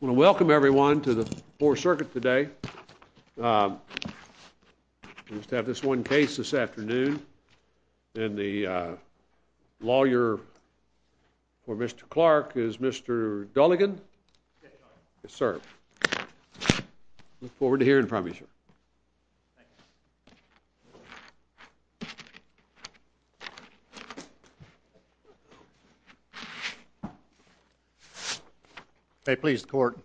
Welcome, everyone, to the Fourth Circuit today. We have just one case this afternoon, and the lawyer for Mr. Clarke is Mr. Dulligan. Sir, I look forward to hearing from you, sir. Mr. Dulligan May I please, court?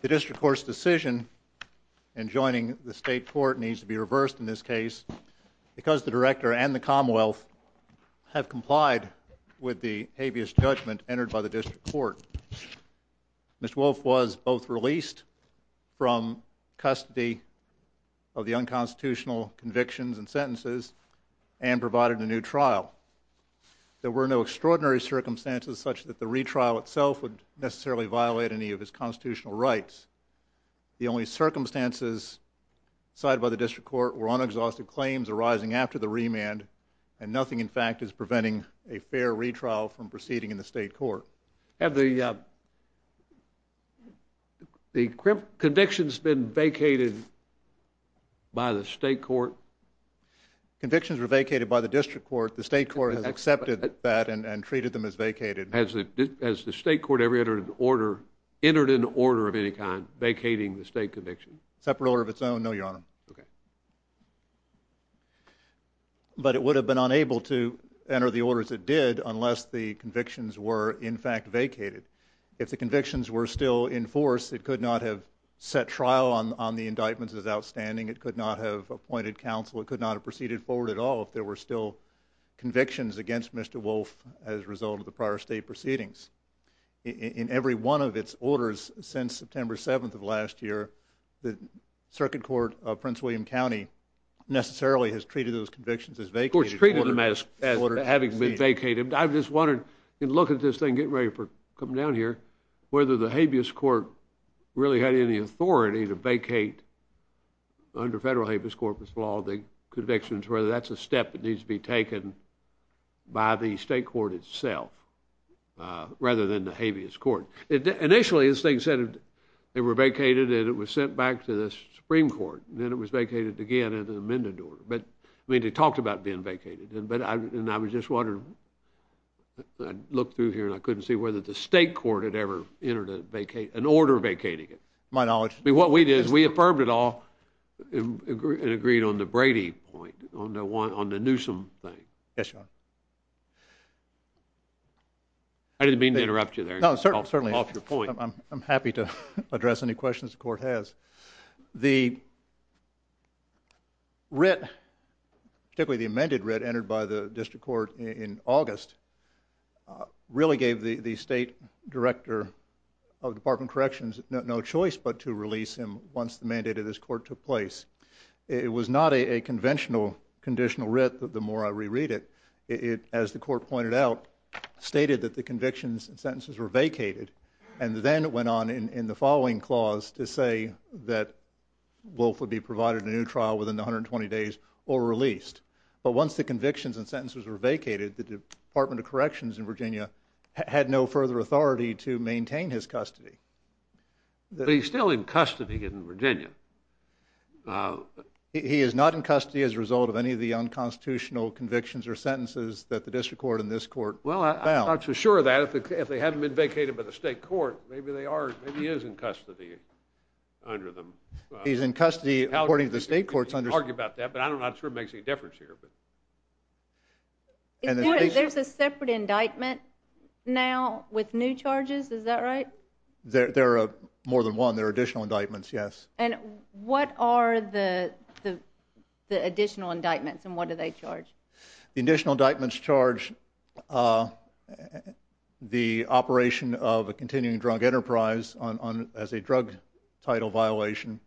The district court's decision in joining the state court needs to be reversed in this case because the director and the commonwealth have complied with the habeas judgment entered by the district court. Ms. Wolfe was both released from custody of the unconstitutional convictions and sentences and provided a new trial. There were no extraordinary circumstances such that the retrial itself would necessarily violate any of his constitutional rights. The only circumstances cited by the district court were unexhaustive claims arising after the remand, and nothing, in fact, is preventing a fair retrial from proceeding in the state court. Have the convictions been vacated by the state court? Mr. Clarke Convictions were vacated by the district court. The state court has accepted that and treated them as vacated. Has the state court ever entered an order of any kind vacating the state conviction? Mr. Dulligan Separate order of its own? No, Your Honor. Mr. Clarke Okay. But it would have been unable to enter the orders it did unless the convictions were, in fact, vacated. If the convictions were still in force, it could not have set trial on the indictment as outstanding. It could not have appointed counsel. It could not have proceeded forward at all if there were still convictions against Mr. Wolfe as a result of the prior state proceedings. In every one of its orders since September 7th of last year, the circuit court of Prince William County necessarily has treated those convictions as vacated. I just wanted to look at this thing, getting ready for coming down here, whether the habeas court really had any authority to vacate under federal habeas corpus law the convictions, whether that's a step that needs to be taken by the state court itself rather than the habeas court. Initially, this thing said they were vacated and it was sent back to the Supreme Court. I mean, it talked about being vacated, but I was just wondering, I looked through here and I couldn't see whether the state court had ever entered an order vacating it. My knowledge. I mean, what we did is we affirmed it all and agreed on the Brady point, on the Newsom thing. Yes, Your Honor. I didn't mean to interrupt you there. No, certainly. Off the point. I'm happy to address any questions the court has. The writ, typically the amended writ entered by the district court in August, really gave the state director of Department of Corrections no choice but to release him once the mandate of this court took place. It was not a conventional conditional writ, but the more I reread it, it, as the court pointed out, stated that the convictions and sentences were vacated. And then it went on in the following clause to say that Wolf would be provided a new trial within 120 days or released. But once the convictions and sentences were vacated, the Department of Corrections in Virginia had no further authority to maintain his custody. But he's still in custody in Virginia. He is not in custody as a result of any of the unconstitutional convictions or sentences that the district court and this court found. Well, I'm not so sure of that. If they hadn't been vacated by the state court, maybe they are, maybe he is in custody under them. He's in custody according to the state court's understanding. I don't argue about that, but I'm not sure it makes any difference here. There's a separate indictment now with new charges, is that right? There are more than one. There are additional indictments, yes. And what are the additional indictments and what do they charge? The additional indictments charge the operation of a continuing drug enterprise as a drug title violation.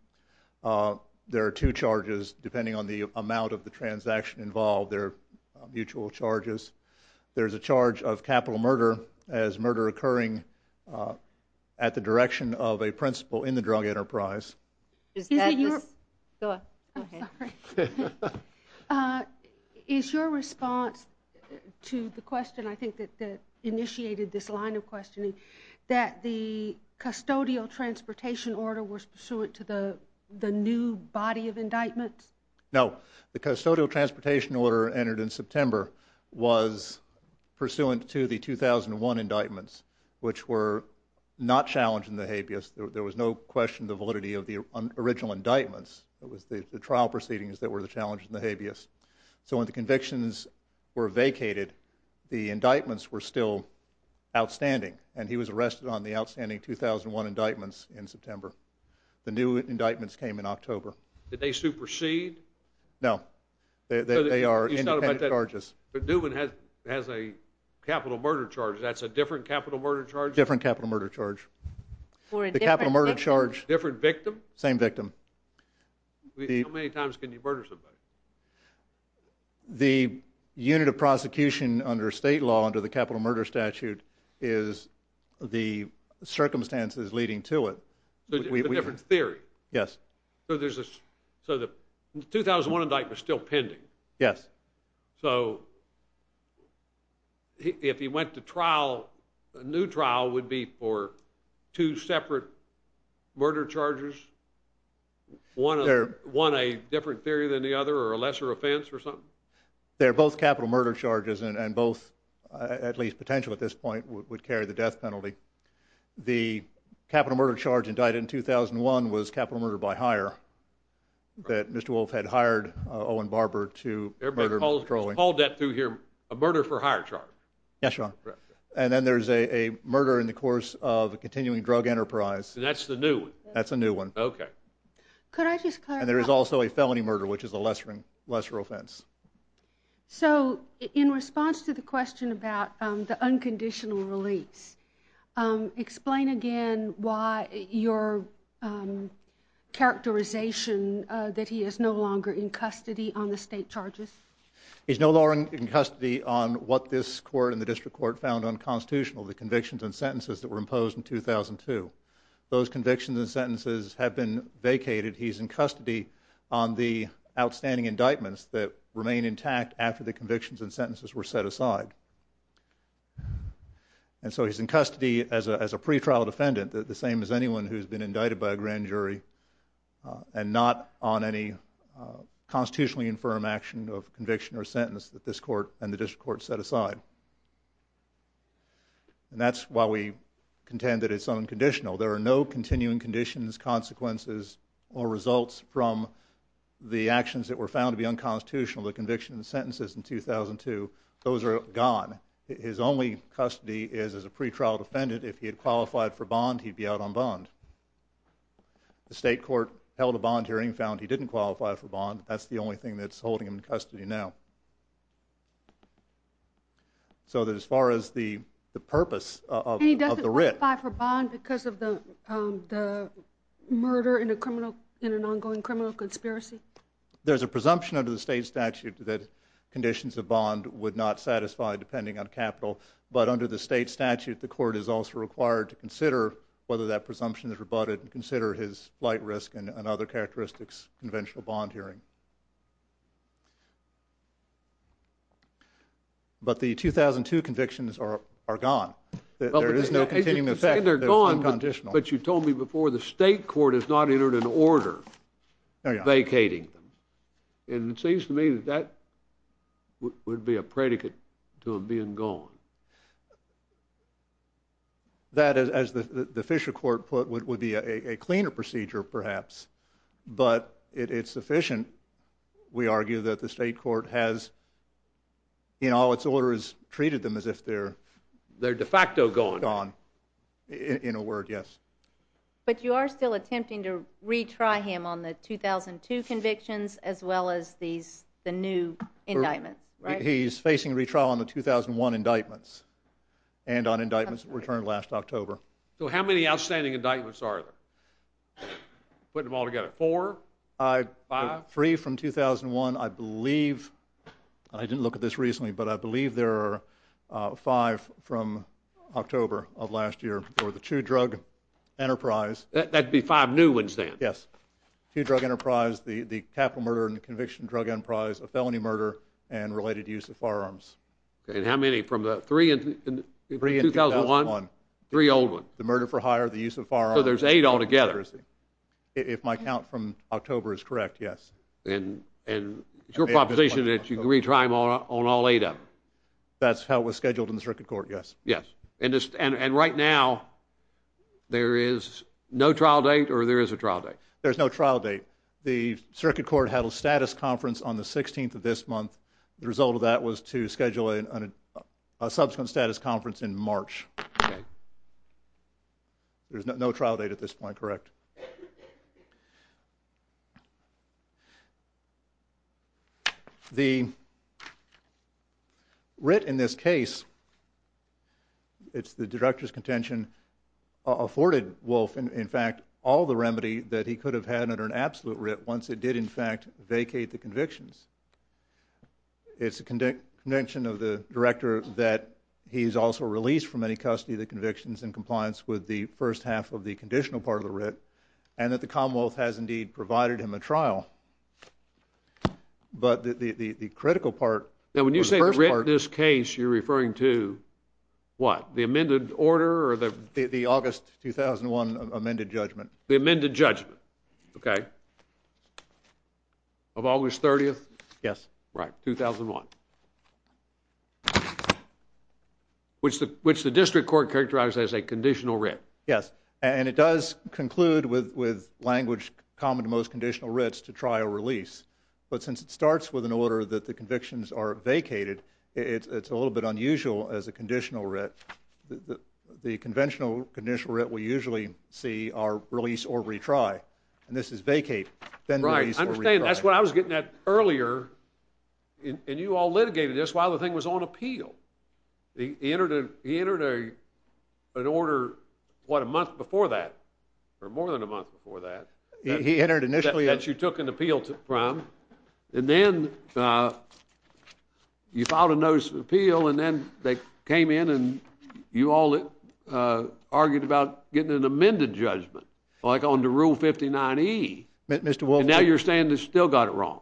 There are two charges depending on the amount of the transaction involved. They're mutual charges. There's a charge of capital murder as murder occurring at the direction of a principal in the drug enterprise. Is your response to the question, I think that initiated this line of questioning, that the custodial transportation order was pursuant to the new body of indictment? No. The custodial transportation order entered in September was pursuant to the 2001 indictments, the trial proceedings that were the challenges and the habeas. So when the convictions were vacated, the indictments were still outstanding and he was arrested on the outstanding 2001 indictments in September. The new indictments came in October. Did they supersede? No. They are independent charges. Newman has a capital murder charge. That's a different capital murder charge? Different capital murder charge. The capital murder charge. Different victim? Same victim. How many times can you murder somebody? The unit of prosecution under state law under the capital murder statute is the circumstances leading to it. A different theory? Yes. So the 2001 indictment is still pending? Yes. So if he went to trial, a new trial would be for two separate murder charges, one a different theory than the other or a lesser offense or something? They're both capital murder charges and both, at least potentially at this point, would carry the death penalty. The capital murder charge indicted in 2001 was capital murder by hire that Mr. Paul Depp threw here, a murder for hire charge. Yes, Your Honor. And then there's a murder in the course of a continuing drug enterprise. That's the new one? That's the new one. Okay. Could I just clarify? And there's also a felony murder, which is a lesser offense. So in response to the question about the unconditional release, explain again your characterization that he is no longer in custody on the state charges? He's no longer in custody on what this court and the district court found unconstitutional, the convictions and sentences that were imposed in 2002. Those convictions and sentences have been vacated. He's in custody on the outstanding indictments that remain intact after the convictions and sentences were set aside. And so he's in custody as a pretrial defendant, the same as anyone who's been indicted by a grand jury and not on any constitutionally infirm action of conviction or sentence that this court and the district court set aside. And that's why we contend that it's unconditional. There are no continuing conditions, consequences, or results from the actions that were found to be unconstitutional, the convictions and sentences in 2002. Those are gone. His only custody is as a pretrial defendant. If he had qualified for bond, he'd be out on bond. The state court held a bond hearing and found he didn't qualify for bond. That's the only thing that's holding him in custody now. So as far as the purpose of the writ. He doesn't qualify for bond because of the murder in an ongoing criminal conspiracy? There's a presumption under the state statute that conditions of bond would not satisfy depending on capital. But under the state statute, the court is also required to consider whether that presumption is rebutted and consider his flight risk and other characteristics conventional bond hearing. But the 2002 convictions are gone. There is no continuing effect. They're gone, but you told me before the state court has not entered an order vacating them. And it seems to me that would be a predicate to them being gone. That, as the Fisher court put, would be a cleaner procedure, perhaps. But it's sufficient, we argue, that the state court has, in all its order, has treated them as if they're de facto gone, in a word, yes. But you are still attempting to retry him on the 2002 convictions as well as the new indictments, right? He's facing retrial on the 2001 indictments and on indictments returned last October. So how many outstanding indictments are there? Putting them all together, four, five? Three from 2001, I believe. I didn't look at this recently, but I believe there are five from October of last year for the two-drug enterprise. That would be five new ones then? Yes. Two-drug enterprise, the capital murder and conviction drug enterprise, a felony murder, and related use of firearms. And how many from the three in 2001? Three old ones. The murder for hire, the use of firearms. So there's eight all together? If my count from October is correct, yes. And it's your proposition that you can retry them on all eight of them? That's how it was scheduled in the circuit court, yes. And right now, there is no trial date or there is a trial date? There's no trial date. The circuit court had a status conference on the 16th of this month. The result of that was to schedule a subsequent status conference in March. There's no trial date at this point, correct? Yes. The writ in this case, it's the director's contention, afforded Wolf, in fact, all the remedy that he could have had under an absolute writ once it did, in fact, vacate the convictions. It's a connection of the director that he's also released from any custody of the convictions in compliance with the first half of the conditional part of the writ, and that the Commonwealth has indeed provided him a trial. But the critical part was the first part. Now, when you say writ in this case, you're referring to what? The amended order? The August 2001 amended judgment. The amended judgment, okay, of August 30th? Yes. Right, 2001. Which the district court characterized as a conditional writ. Yes, and it does conclude with language common to most conditional writs to trial release. But since it starts with an order that the convictions are vacated, it's a little bit unusual as a conditional writ. The conventional conditional writ we usually see are release or retry, and this is vacate, then release or retry. I understand. That's what I was getting at earlier, and you all litigated this while the thing was on appeal. He entered an order, what, a month before that, or more than a month before that, that you took an appeal from, and then you filed a notice of appeal, and then they came in and you all argued about getting an amended judgment, like under Rule 59E. And now you're saying they still got it wrong,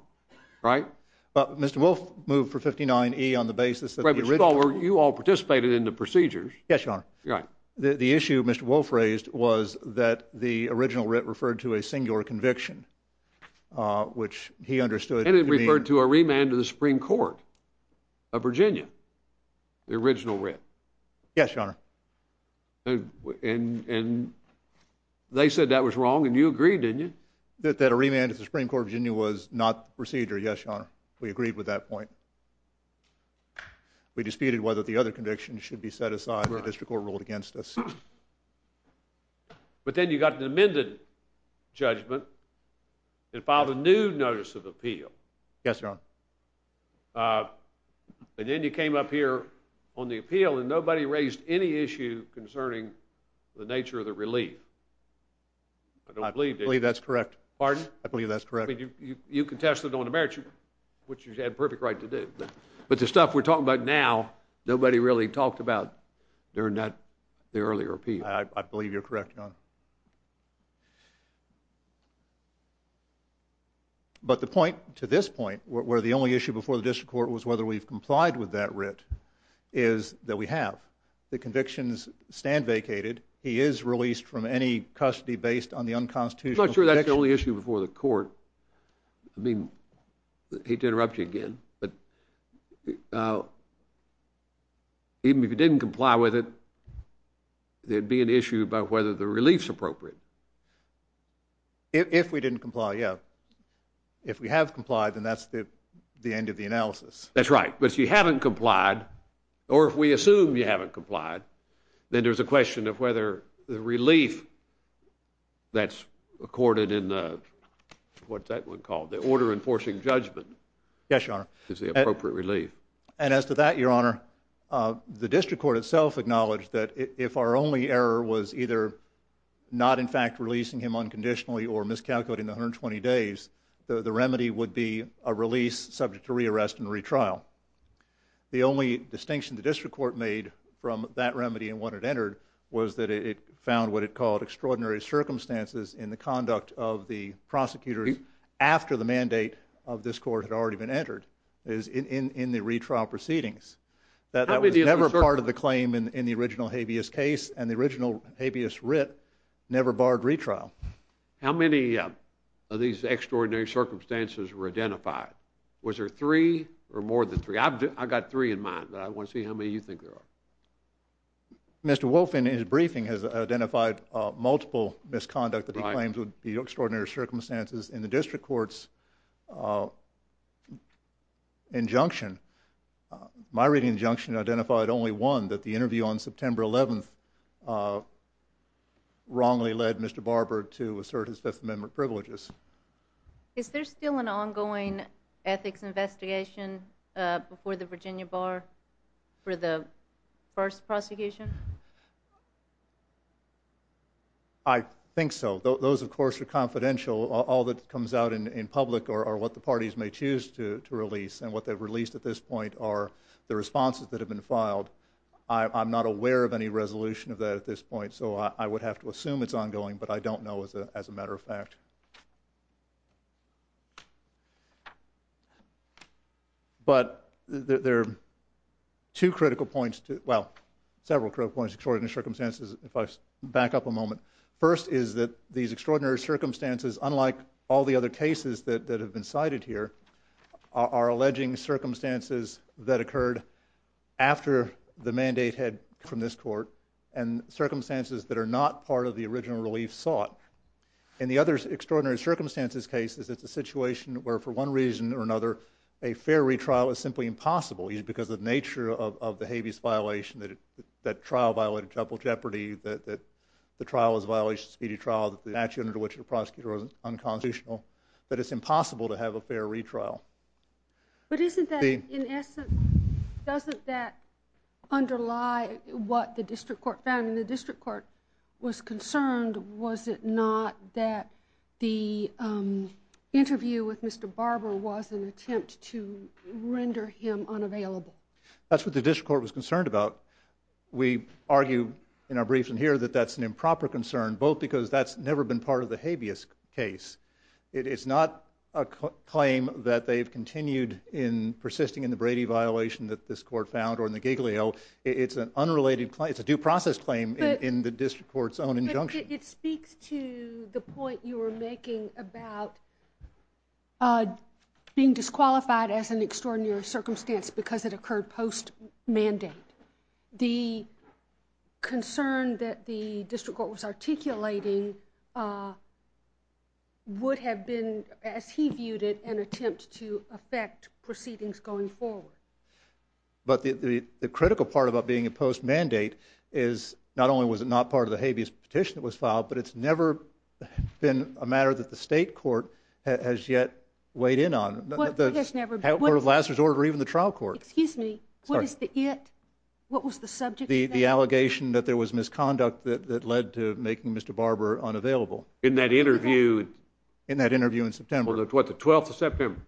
right? Mr. Wolfe moved for 59E on the basis that the original. You all participated in the procedures. Yes, Your Honor. The issue Mr. Wolfe raised was that the original writ referred to a singular conviction, which he understood. And it referred to a remand to the Supreme Court of Virginia, the original writ. Yes, Your Honor. And they said that was wrong, and you agreed, didn't you? That a remand to the Supreme Court of Virginia was not procedure. Yes, Your Honor. We agreed with that point. We disputed whether the other conviction should be set aside or the district court ruled against us. But then you got an amended judgment and filed a new notice of appeal. Yes, Your Honor. And then you came up here on the appeal, and nobody raised any issue concerning the nature of the relief. I believe that's correct. Pardon? I believe that's correct. You contested on the merits, which you had the perfect right to do. But the stuff we're talking about now, I believe you're correct, Your Honor. But the point to this point, where the only issue before the district court was whether we've complied with that writ, is that we have. The convictions stand vacated. He is released from any custody based on the unconstitutional conviction. I'm not sure that's the only issue before the court. I mean, I hate to interrupt you again, but even if he didn't comply with it, there'd be an issue about whether the relief's appropriate. If we didn't comply, yeah. If we have complied, then that's the end of the analysis. That's right. But if you haven't complied, or if we assume you haven't complied, then there's a question of whether the relief that's accorded in the, what's that one called, the order enforcing judgment, is the appropriate relief. And as to that, Your Honor, the district court itself acknowledged that if our only error was either not, in fact, releasing him unconditionally, or miscalculating the 120 days, the remedy would be a release subject to rearrest and retrial. The only distinction the district court made from that remedy and what it entered was that it found what it called extraordinary circumstances in the conduct of the prosecutor after the mandate of this court had already been entered, in the retrial proceedings. That was never part of the claim in the original habeas case, and the original habeas writ never barred retrial. How many of these extraordinary circumstances were identified? Was there three or more than three? I've got three in mind, but I want to see how many you think there are. Mr. Wolfe, in his briefing, has identified multiple misconduct claims with the extraordinary circumstances in the district court's injunction. My reading of the injunction identified only one, that the interview on September 11th wrongly led Mr. Barber to assert his Fifth Amendment privileges. Is there still an ongoing ethics investigation before the Virginia Bar for the first prosecution? I think so. Those, of course, are confidential. All that comes out in public are what the parties may choose to release and what they've released at this point are the responses that have been filed. I'm not aware of any resolution of that at this point, so I would have to assume it's ongoing, but I don't know as a matter of fact. But there are two critical points, well, several critical points, extraordinary circumstances, if I back up a moment. First is that these extraordinary circumstances, unlike all the other cases that have been cited here, are alleging circumstances that occurred after the mandate had from this court and circumstances that are not part of the original relief sought. And the other extraordinary circumstances case is that the situation where, for one reason or another, a fair retrial is simply impossible because of the nature of the habeas violation, that trial violated triple jeopardy, that the trial is a violation of speedy trial, that the action under which the prosecutor was unconstitutional. But it's impossible to have a fair retrial. But isn't that, in essence, doesn't that underlie what the district court found? And the district court was concerned, was it not, that the interview with Mr. Barber was an attempt to render him unavailable? That's what the district court was concerned about. We argue in our briefing here that that's an improper concern, both because that's never been part of the habeas case. It is not a claim that they've continued in persisting in the Brady violation that this court found or in the Giglio. It's an unrelated claim. It's a due process claim in the district court's own injunction. It speaks to the point you were making about being disqualified as an extraordinary circumstance because it occurred post-mandate. The concern that the district court was articulating would have been, as he viewed it, an attempt to affect proceedings going forward. But the critical part about being a post-mandate is not only was it not part of the habeas petition that was filed, but it's never been a matter that the state court has yet weighed in on, or the last resort or even the trial court. Excuse me. What is the it? What was the subject? The allegation that there was misconduct that led to making Mr. Barber unavailable. In that interview? In that interview in September. What, the 12th of September?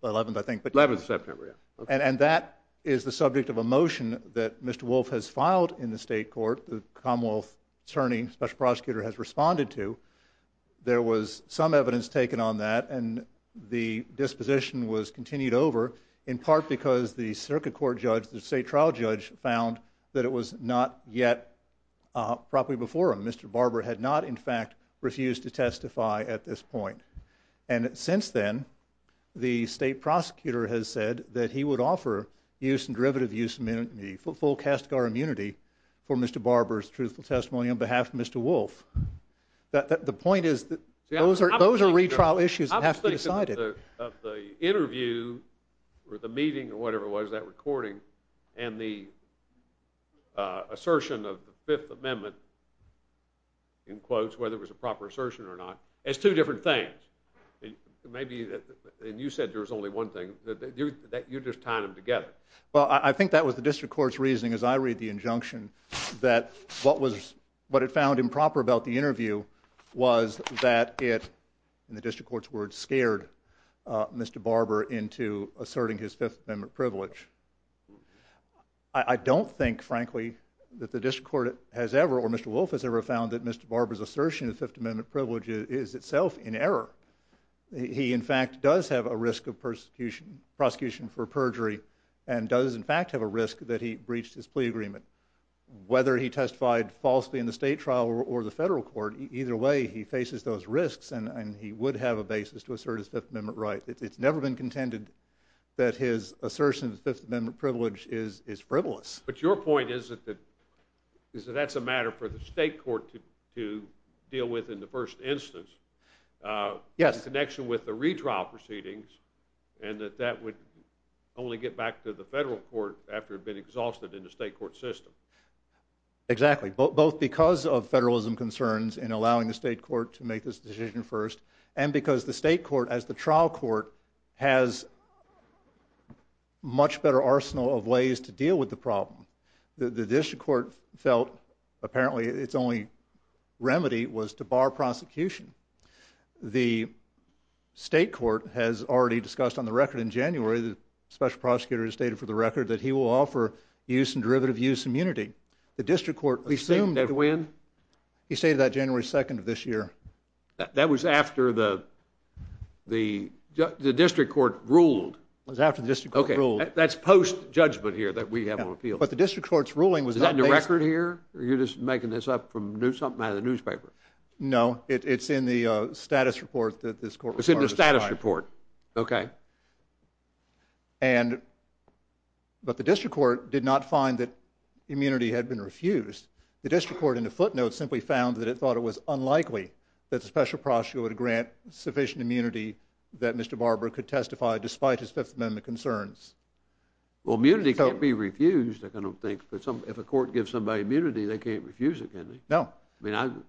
The 11th, I think. The 11th of September, yes. And that is the subject of a motion that Mr. Wolf has filed in the state court, the Commonwealth CERN special prosecutor has responded to. There was some evidence taken on that, and the disposition was continued over, in part because the circuit court judge, the state trial judge, found that it was not yet properly before him. Mr. Barber had not, in fact, refused to testify at this point. And since then, the state prosecutor has said that he would offer use and derivative use of full CASCAR immunity for Mr. Barber's truthful testimony on behalf of Mr. Wolf. The point is, those are retrial issues that have to be decided. I was thinking of the interview, or the meeting, or whatever it was, that recording, and the assertion of the Fifth Amendment, in quotes, whether it was a proper assertion or not, as two different things. Maybe, and you said there was only one thing. You're just tying them together. Well, I think that was the district court's reasoning as I read the injunction, that what it found improper about the interview was that it, in the district court's words, scared Mr. Barber into asserting his Fifth Amendment privilege. I don't think, frankly, that the district court has ever, or Mr. Wolf has ever, found that Mr. Barber's assertion of the Fifth Amendment privilege is itself in error. He, in fact, does have a risk of prosecution for perjury, and does, in fact, have a risk that he breached his plea agreement. Whether he testified falsely in the state trial or the federal court, either way, he faces those risks, and he would have a basis to assert his Fifth Amendment rights. It's never been contended that his assertion of the Fifth Amendment privilege is frivolous. But your point is that that's a matter for the state court to deal with in the first instance. Yes. In connection with the retrial proceedings, and that that would only get back to the federal court after it had been exhausted in the state court system. Exactly, both because of federalism concerns in allowing the state court to make this decision first, and because the state court, as the trial court, has a much better arsenal of ways to deal with the problem. The district court felt, apparently, its only remedy was to bar prosecution. The state court has already discussed on the record in January, the special prosecutor has stated for the record, that he will offer use and derivative use immunity. The district court assumed that when? He stated that January 2nd of this year. That was after the district court ruled. It was after the district court ruled. Okay, that's post-judgment here that we have on appeal. But the district court's ruling was in May. Is that in the record here, or are you just making this up from something out of the newspaper? No, it's in the status report. It's in the status report. Okay. But the district court did not find that immunity had been refused. The district court in the footnote simply found that it thought it was unlikely that the special prosecutor would grant sufficient immunity that Mr. Barber could testify, despite his Fifth Amendment concerns. Well, immunity can't be refused, I don't think. If a court gives somebody immunity, they can't refuse it, can they? No.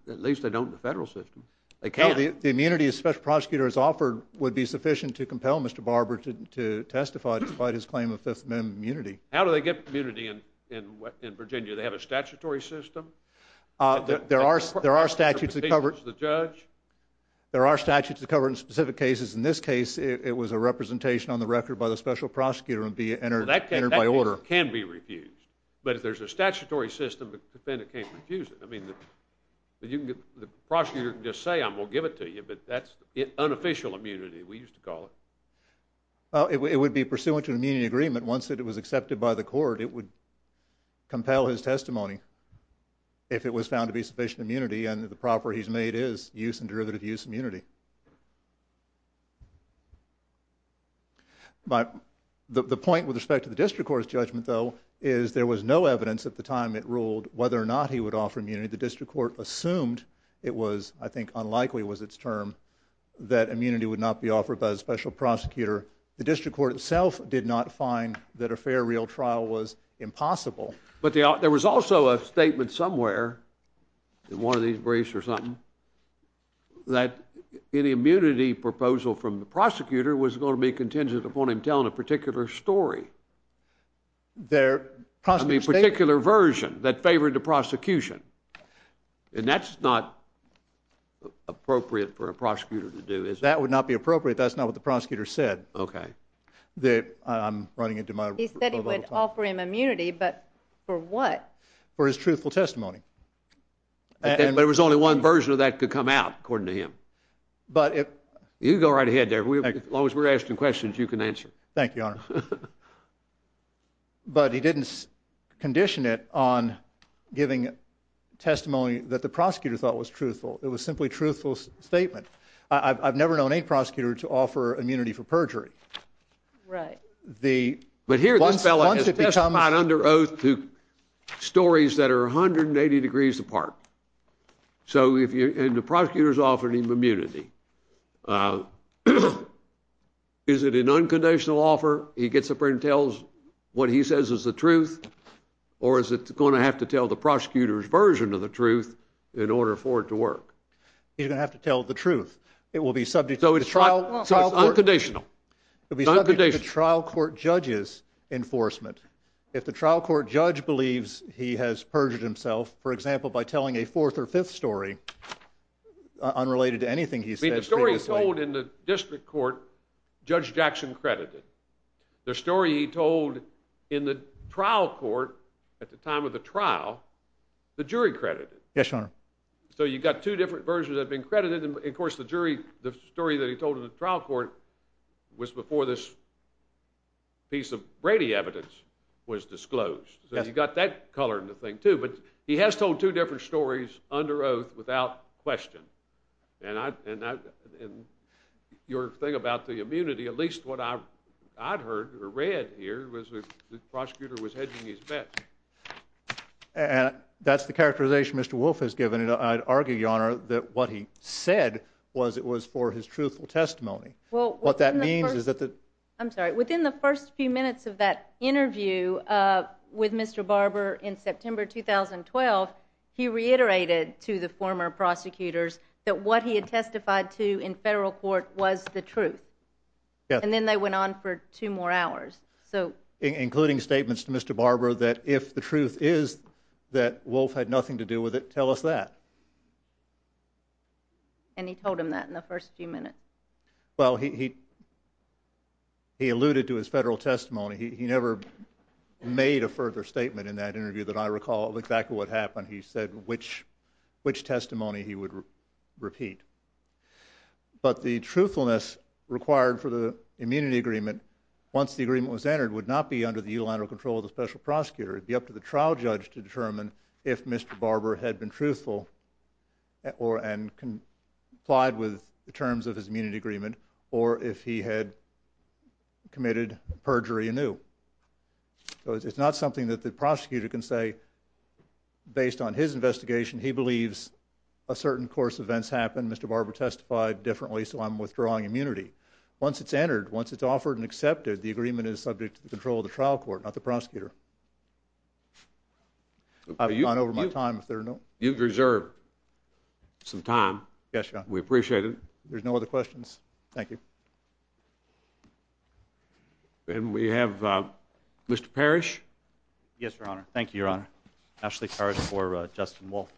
At least they don't in the federal system. The immunity a special prosecutor is offered would be sufficient to compel Mr. Barber to testify despite his claim of Fifth Amendment immunity. How do they get immunity in Virginia? Do they have a statutory system? There are statutes that cover it. The judge? There are statutes that cover it in specific cases. In this case, it was a representation on the record by the special prosecutor and be entered by order. That can be refused. But if there's a statutory system, the defendant can't refuse it. I mean, the prosecutor can just say, I'm going to give it to you, but that's unofficial immunity, we used to call it. Well, it would be pursuant to an immunity agreement. Once it was accepted by the court, it would compel his testimony if it was found to be sufficient immunity, and the property he's made is use and derivative use immunity. But the point with respect to the district court's judgment, though, is there was no evidence at the time it ruled whether or not he would offer immunity. The district court assumed it was, I think unlikely was its term, that immunity would not be offered by a special prosecutor. The district court itself did not find that a fair real trial was impossible. But there was also a statement somewhere in one of these briefs or something that the immunity proposal from the prosecutor was going to be contingent upon him telling a particular story. A particular version that favored the prosecution. And that's not appropriate for a prosecutor to do. That would not be appropriate, that's not what the prosecutor said. He said he would offer him immunity, but for what? For his truthful testimony. But there was only one version of that that could come out, according to him. You go right ahead there, as long as we're asking questions, you can answer. Thank you, Arnold. But he didn't condition it on giving testimony that the prosecutor thought was truthful. It was simply a truthful statement. I've never known any prosecutor to offer immunity for perjury. Right. But here this fellow is testified under oath to stories that are 180 degrees apart. And the prosecutor's offered him immunity. Is it an unconditional offer? He gets up there and tells what he says is the truth? Or is it going to have to tell the prosecutor's version of the truth in order for it to work? He's going to have to tell the truth. It will be subject to trial court judges' enforcement. If the trial court judge believes he has perjured himself, for example, by telling a fourth or fifth story unrelated to anything he says, See, the story he told in the district court, Judge Jackson credited. The story he told in the trial court at the time of the trial, the jury credited. Yes, Your Honor. So you've got two different versions that have been credited, and, of course, the story that he told in the trial court was before this piece of Brady evidence was disclosed. So you've got that color in the thing, too. But he has told two different stories under oath without question. And your thing about the immunity, at least what I've heard or read here, was that the prosecutor was hedging his bets. And that's the characterization Mr. Wolf has given. And I'd argue, Your Honor, that what he said was it was for his truthful testimony. What that means is that the— I'm sorry. Within the first few minutes of that interview with Mr. Barber in September 2012, he reiterated to the former prosecutors that what he had testified to in federal court was the truth. And then they went on for two more hours. Including statements to Mr. Barber that if the truth is that Wolf had nothing to do with it, tell us that. And he told him that in the first few minutes. Well, he alluded to his federal testimony. He never made a further statement in that interview that I recall. In fact, what happened, he said which testimony he would repeat. But the truthfulness required for the immunity agreement, once the agreement was entered, would not be under the unilateral control of the special prosecutor. It would be up to the trial judge to determine if Mr. Barber had been truthful and complied with the terms of his immunity agreement or if he had committed perjury anew. It's not something that the prosecutor can say based on his investigation. He believes a certain course of events happened. Mr. Barber testified differently, so I'm withdrawing immunity. Once it's entered, once it's offered and accepted, the agreement is subject to the control of the trial court, not the prosecutor. I've gone over my time. You've reserved some time. Yes, Your Honor. We appreciate it. There's no other questions. Thank you. And we have Mr. Parrish. Yes, Your Honor. Thank you, Your Honor. Ashley Parrish for Justin Wolf.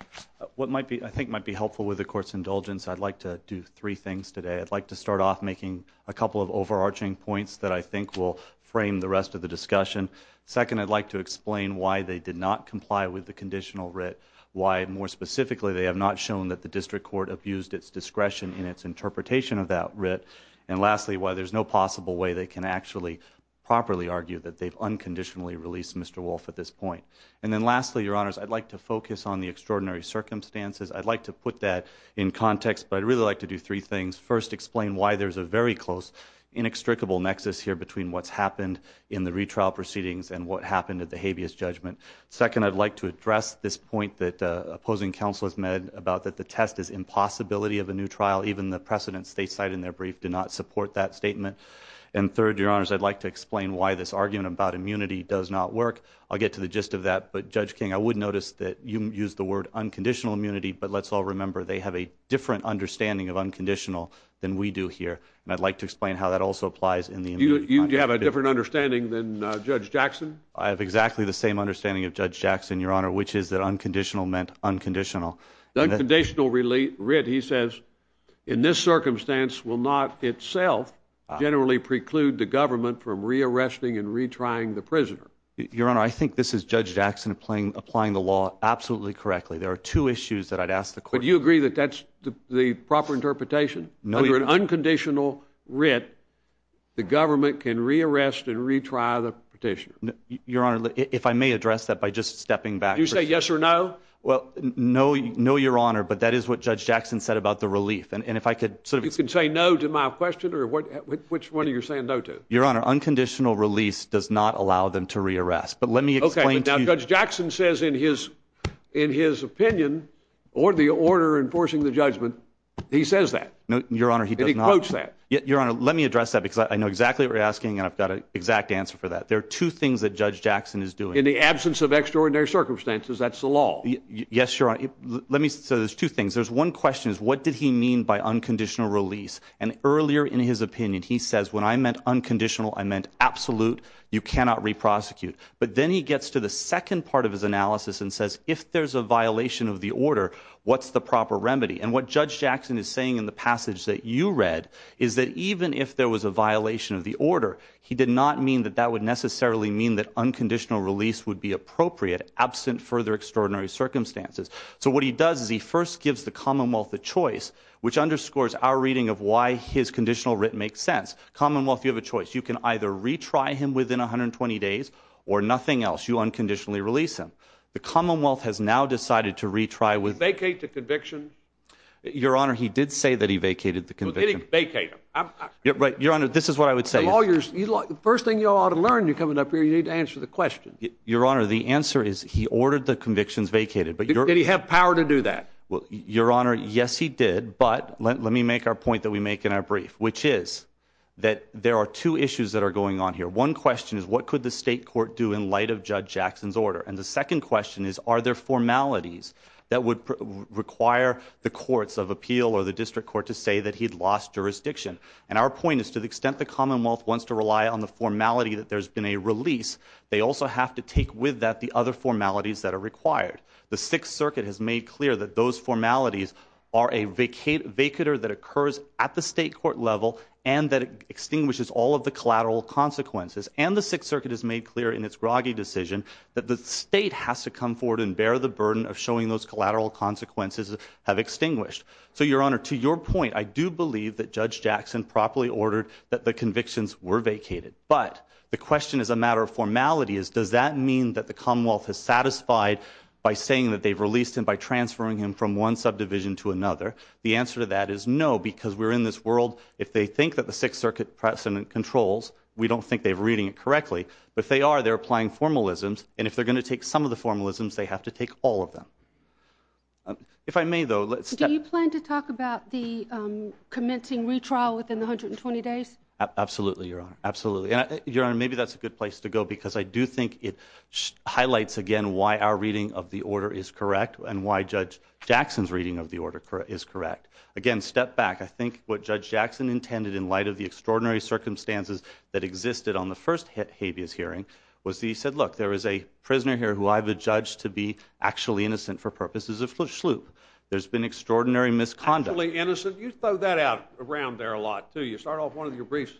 What I think might be helpful with the court's indulgence, I'd like to do three things today. I'd like to start off making a couple of overarching points that I think will frame the rest of the discussion. Second, I'd like to explain why they did not comply with the conditional writ, why more specifically they have not shown that the district court abused its discretion in its interpretation of that writ, and lastly, why there's no possible way they can actually properly argue that they've unconditionally released Mr. Wolf at this point. And then lastly, Your Honors, I'd like to focus on the extraordinary circumstances. I'd like to put that in context, but I'd really like to do three things. First, explain why there's a very close inextricable nexus here between what's happened in the retrial proceedings and what happened at the habeas judgment. Second, I'd like to address this point that the opposing counsel has made about that the test is impossibility of a new trial. Even the precedents they cite in their brief did not support that statement. And third, Your Honors, I'd like to explain why this argument about immunity does not work. I'll get to the gist of that, but Judge King, I would notice that you used the word unconditional immunity, but let's all remember they have a different understanding of unconditional than we do here, and I'd like to explain how that also applies in the immunity. You have a different understanding than Judge Jackson? I have exactly the same understanding of Judge Jackson, Your Honor, which is that unconditional meant unconditional. The unconditional writ, he says, in this circumstance, will not itself generally preclude the government from re-arresting and retrying the prisoner. Your Honor, I think this is Judge Jackson applying the law absolutely correctly. There are two issues that I'd ask the question. But you agree that that's the proper interpretation? No, Your Honor. If there is an unconditional writ, the government can re-arrest and retry the prisoner. Your Honor, if I may address that by just stepping back. Did you say yes or no? No, Your Honor, but that is what Judge Jackson said about the relief. You can say no to my question, or which one are you saying no to? Your Honor, unconditional release does not allow them to re-arrest. But let me explain to you. Okay, but Judge Jackson says in his opinion, or the order enforcing the judgment, he says that. Your Honor, he does not. Let me quote that. Your Honor, let me address that because I know exactly what you're asking, and I've got an exact answer for that. There are two things that Judge Jackson is doing. In the absence of extraordinary circumstances, that's the law. Yes, Your Honor. Let me say there's two things. There's one question is what did he mean by unconditional release? And earlier in his opinion, he says, when I meant unconditional, I meant absolute, you cannot re-prosecute. But then he gets to the second part of his analysis and says, if there's a violation of the order, what's the proper remedy? And what Judge Jackson is saying in the passage that you read, is that even if there was a violation of the order, he did not mean that that would necessarily mean that unconditional release would be appropriate absent further extraordinary circumstances. So what he does is he first gives the Commonwealth a choice, which underscores our reading of why his conditional writ makes sense. Commonwealth, you have a choice. You can either retry him within 120 days or nothing else. You unconditionally release him. The Commonwealth has now decided to retry. Did he vacate the conviction? Your Honor, he did say that he vacated the conviction. Well, did he vacate it? Your Honor, this is what I would say. First thing you ought to learn coming up here, you need to answer the question. Your Honor, the answer is he ordered the convictions vacated. Did he have power to do that? Your Honor, yes, he did. But let me make our point that we make in our brief, which is that there are two issues that are going on here. One question is what could the state court do in light of Judge Jackson's order? And the second question is are there formalities that would require the courts of appeal or the district court to say that he'd lost jurisdiction? And our point is to the extent the Commonwealth wants to rely on the formality that there's been a release, they also have to take with that the other formalities that are required. The Sixth Circuit has made clear that those formalities are a vacater that occurs at the state court level and that it extinguishes all of the collateral consequences. And the Sixth Circuit has made clear in its Groggy decision that the state has to come forward and bear the burden of showing those collateral consequences have extinguished. So, Your Honor, to your point, I do believe that Judge Jackson properly ordered that the convictions were vacated. But the question as a matter of formality is does that mean that the Commonwealth is satisfied by saying that they've released him by transferring him from one subdivision to another? The answer to that is no, because we're in this world, if they think that the Sixth Circuit pressed them in controls, we don't think they're reading it correctly. But if they are, they're applying formalisms, and if they're going to take some of the formalisms, they have to take all of them. If I may, though, let's... Do you plan to talk about the commencing retrial within 120 days? Absolutely, Your Honor. Absolutely. Your Honor, maybe that's a good place to go, because I do think it highlights, again, why our reading of the order is correct and why Judge Jackson's reading of the order is correct. Again, step back. I think what Judge Jackson intended in light of the extraordinary circumstances that existed on the first habeas hearing was that he said, look, there is a prisoner here who I have adjudged to be actually innocent for purposes of sloop. There's been extraordinary misconduct. Actually innocent? You throw that out around there a lot, too. You start off one of your briefs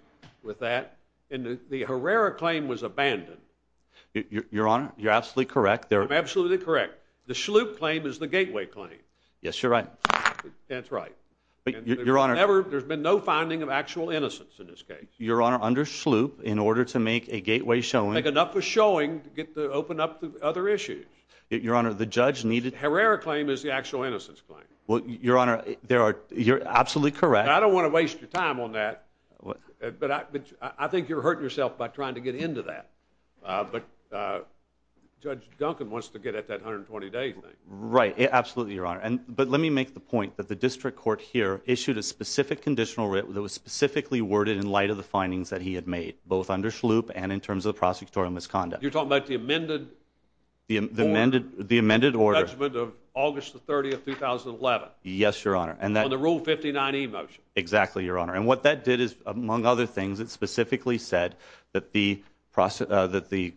with that. And the Herrera claim was abandoned. Your Honor, you're absolutely correct. I'm absolutely correct. The sloop claim is the gateway claim. Yes, you're right. That's right. There's been no finding of actual innocence in this case. Your Honor, under sloop, in order to make a gateway showing... Make enough of showing to open up to other issues. Your Honor, the judge needed... The Herrera claim is the actual innocence claim. Your Honor, you're absolutely correct. I don't want to waste your time on that, but I think you're hurting yourself by trying to get into that. But Judge Duncan wants to get at that 120-day claim. Right. Absolutely, Your Honor. But let me make the point that the district court here issued a specific conditional written that was specifically worded in light of the findings that he had made, both under sloop and in terms of prosecutorial misconduct. You're talking about the amended... The amended order. The judgment of August 30, 2011. Yes, Your Honor. On the Rule 59E motion. Exactly, Your Honor. And what that did is, among other things, it specifically said that the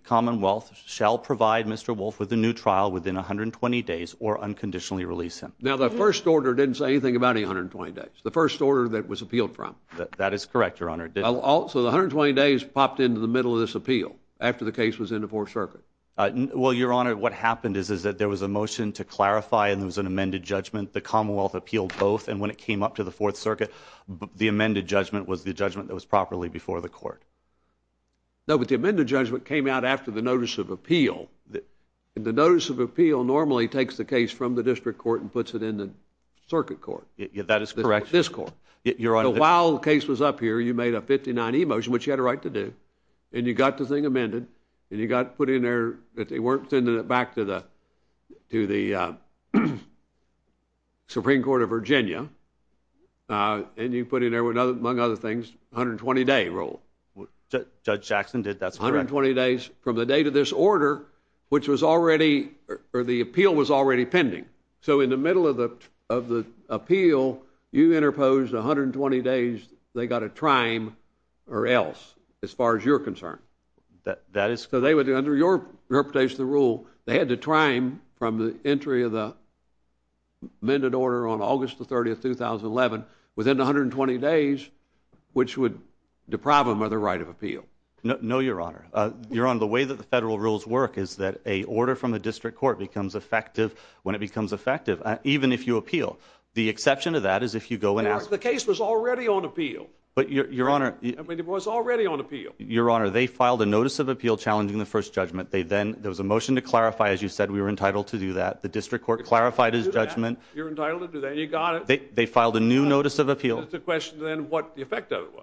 Commonwealth shall provide Mr. Wolf with a new trial within 120 days or unconditionally release him. Now, the first order didn't say anything about 120 days. It's the first order that was appealed from. That is correct, Your Honor. So the 120 days popped into the middle of this appeal after the case was in the Fourth Circuit. Well, Your Honor, what happened is that there was a motion to clarify and there was an amended judgment. The Commonwealth appealed both, and when it came up to the Fourth Circuit, the amended judgment was the judgment that was properly before the court. No, but the amended judgment came out after the notice of appeal. The notice of appeal normally takes the case from the district court and puts it in the circuit court. That is correct. The district court. So while the case was up here, you made a 59E motion, which you had a right to do, and you got the thing amended, and you got it put in there, but they weren't sending it back to the Supreme Court of Virginia, and you put in there, among other things, 120-day rule. Judge Jackson did that. 120 days from the date of this order, which was already, or the appeal was already pending. So in the middle of the appeal, you interposed 120 days. They got a trime, or else, as far as you're concerned. That is? So they would, under your interpretation of the rule, they had to trime from the entry of the amended order on August 30, 2011, within 120 days, which would deprive them of their right of appeal. No, Your Honor. Your Honor, the way that the federal rules work is that a order from the district court becomes effective when it becomes effective, even if you appeal. The exception to that is if you go and ask. The case was already on appeal. Your Honor. It was already on appeal. Your Honor, they filed a notice of appeal challenging the first judgment. There was a motion to clarify, as you said, we were entitled to do that. The district court clarified his judgment. You're entitled to do that. You got it. They filed a new notice of appeal. That's the question, then, what the effect of it was.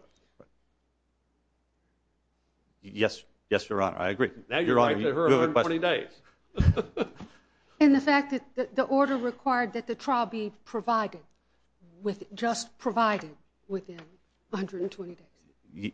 Yes, Your Honor. I agree. Now you're going to have to hear 120 days. And the fact that the order required that the trial be provided, just provided within 120 days.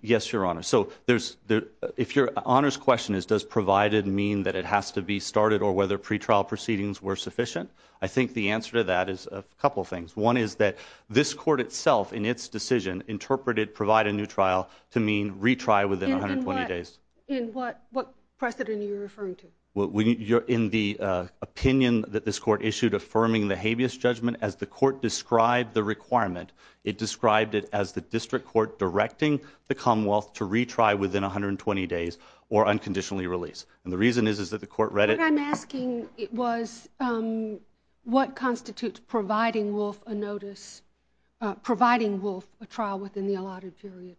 Yes, Your Honor. So if Your Honor's question is does provided mean that it has to be started or whether pretrial proceedings were sufficient, I think the answer to that is a couple of things. One is that this court itself, in its decision, interpreted provide a new trial to mean retry within 120 days. And what precedent are you referring to? In the opinion that this court issued affirming the habeas judgment, as the court described the requirement, it described it as the district court directing the Commonwealth to retry within 120 days or unconditionally release. And the reason is that the court read it. What I'm asking was what constitutes providing Wolf a notice, providing Wolf a trial within the allotted period.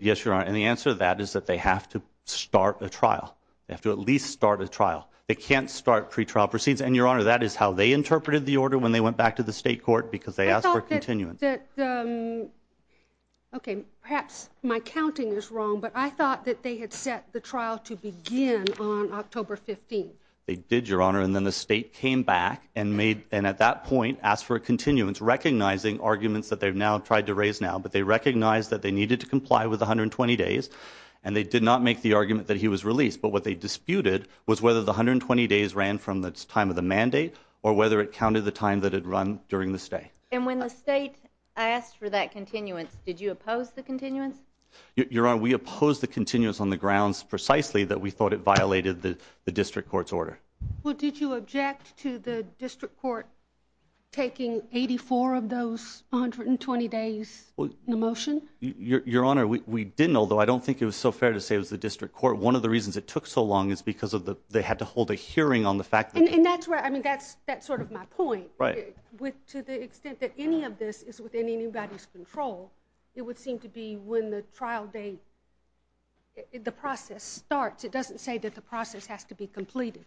Yes, Your Honor. And the answer to that is that they have to start a trial. They have to at least start a trial. They can't start pretrial proceedings. And, Your Honor, that is how they interpreted the order when they went back to the state court because they asked for a continuance. Okay, perhaps my counting is wrong, but I thought that they had set the trial to begin on October 15th. They did, Your Honor, and then the state came back and at that point asked for a continuance, recognizing arguments that they've now tried to raise now, but they recognized that they needed to comply with 120 days, and they did not make the argument that he was released, but what they disputed was whether the 120 days ran from the time of the mandate or whether it counted the time that had run during the state. And when the state asked for that continuance, did you oppose the continuance? Your Honor, we opposed the continuance on the grounds precisely that we thought it violated the district court's order. Well, did you object to the district court taking 84 of those 120 days in the motion? Your Honor, we didn't, although I don't think it was so fair to say it was the district court. One of the reasons it took so long is because of the, they had to hold a hearing on the fact. And that's where, I mean, that's, that's sort of my point to the extent that any of this is within anybody's control. It would seem to be when the trial date, the process starts. It doesn't say that the process has to be completed.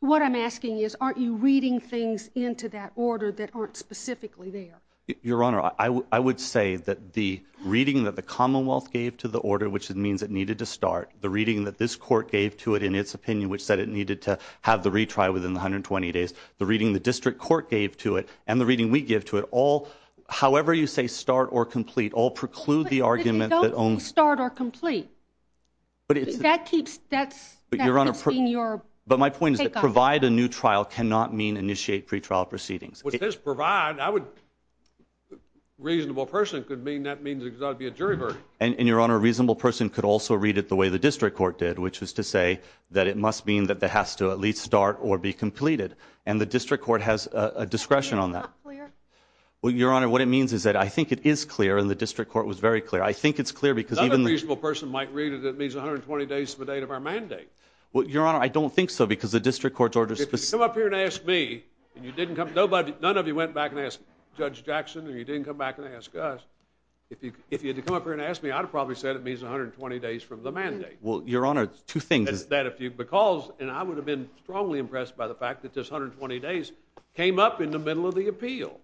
What I'm asking is, aren't you reading things into that order that aren't specifically there? Your Honor, I would say that the reading that the Commonwealth gave to the order, which it means it needed to start the reading that this court gave to it in its opinion, which said it needed to have the retry within 120 days, the reading, the district court gave to it and the reading we give to it all. However you say start or complete all preclude the argument that only start or complete, but that keeps that, but your Honor, but my point is to provide a new trial cannot mean initiate pretrial proceedings. With this provide, I would reasonable person could mean that means exactly a jury verdict. And your Honor, reasonable person could also read it the way the district court did, which was to say that it must mean that they have to at least start or be completed. And the district court has a discretion on that. Well, your Honor, what it means is that I think it is clear in the district court was very clear. I think it's clear because even a reasonable person might read it. It means 120 days to the date of our mandate. Well, I don't think so because the district court's orders come up here and ask me and you didn't come nobody, none of you went back and ask judge Jackson and he didn't come back and ask us if he, if he had to come up here and ask me, I'd probably said it means 120 days from the mandate. Well, your Honor, two things that if you, because, and I would have been strongly impressed by the fact that this 120 days came up in the middle of the appeal.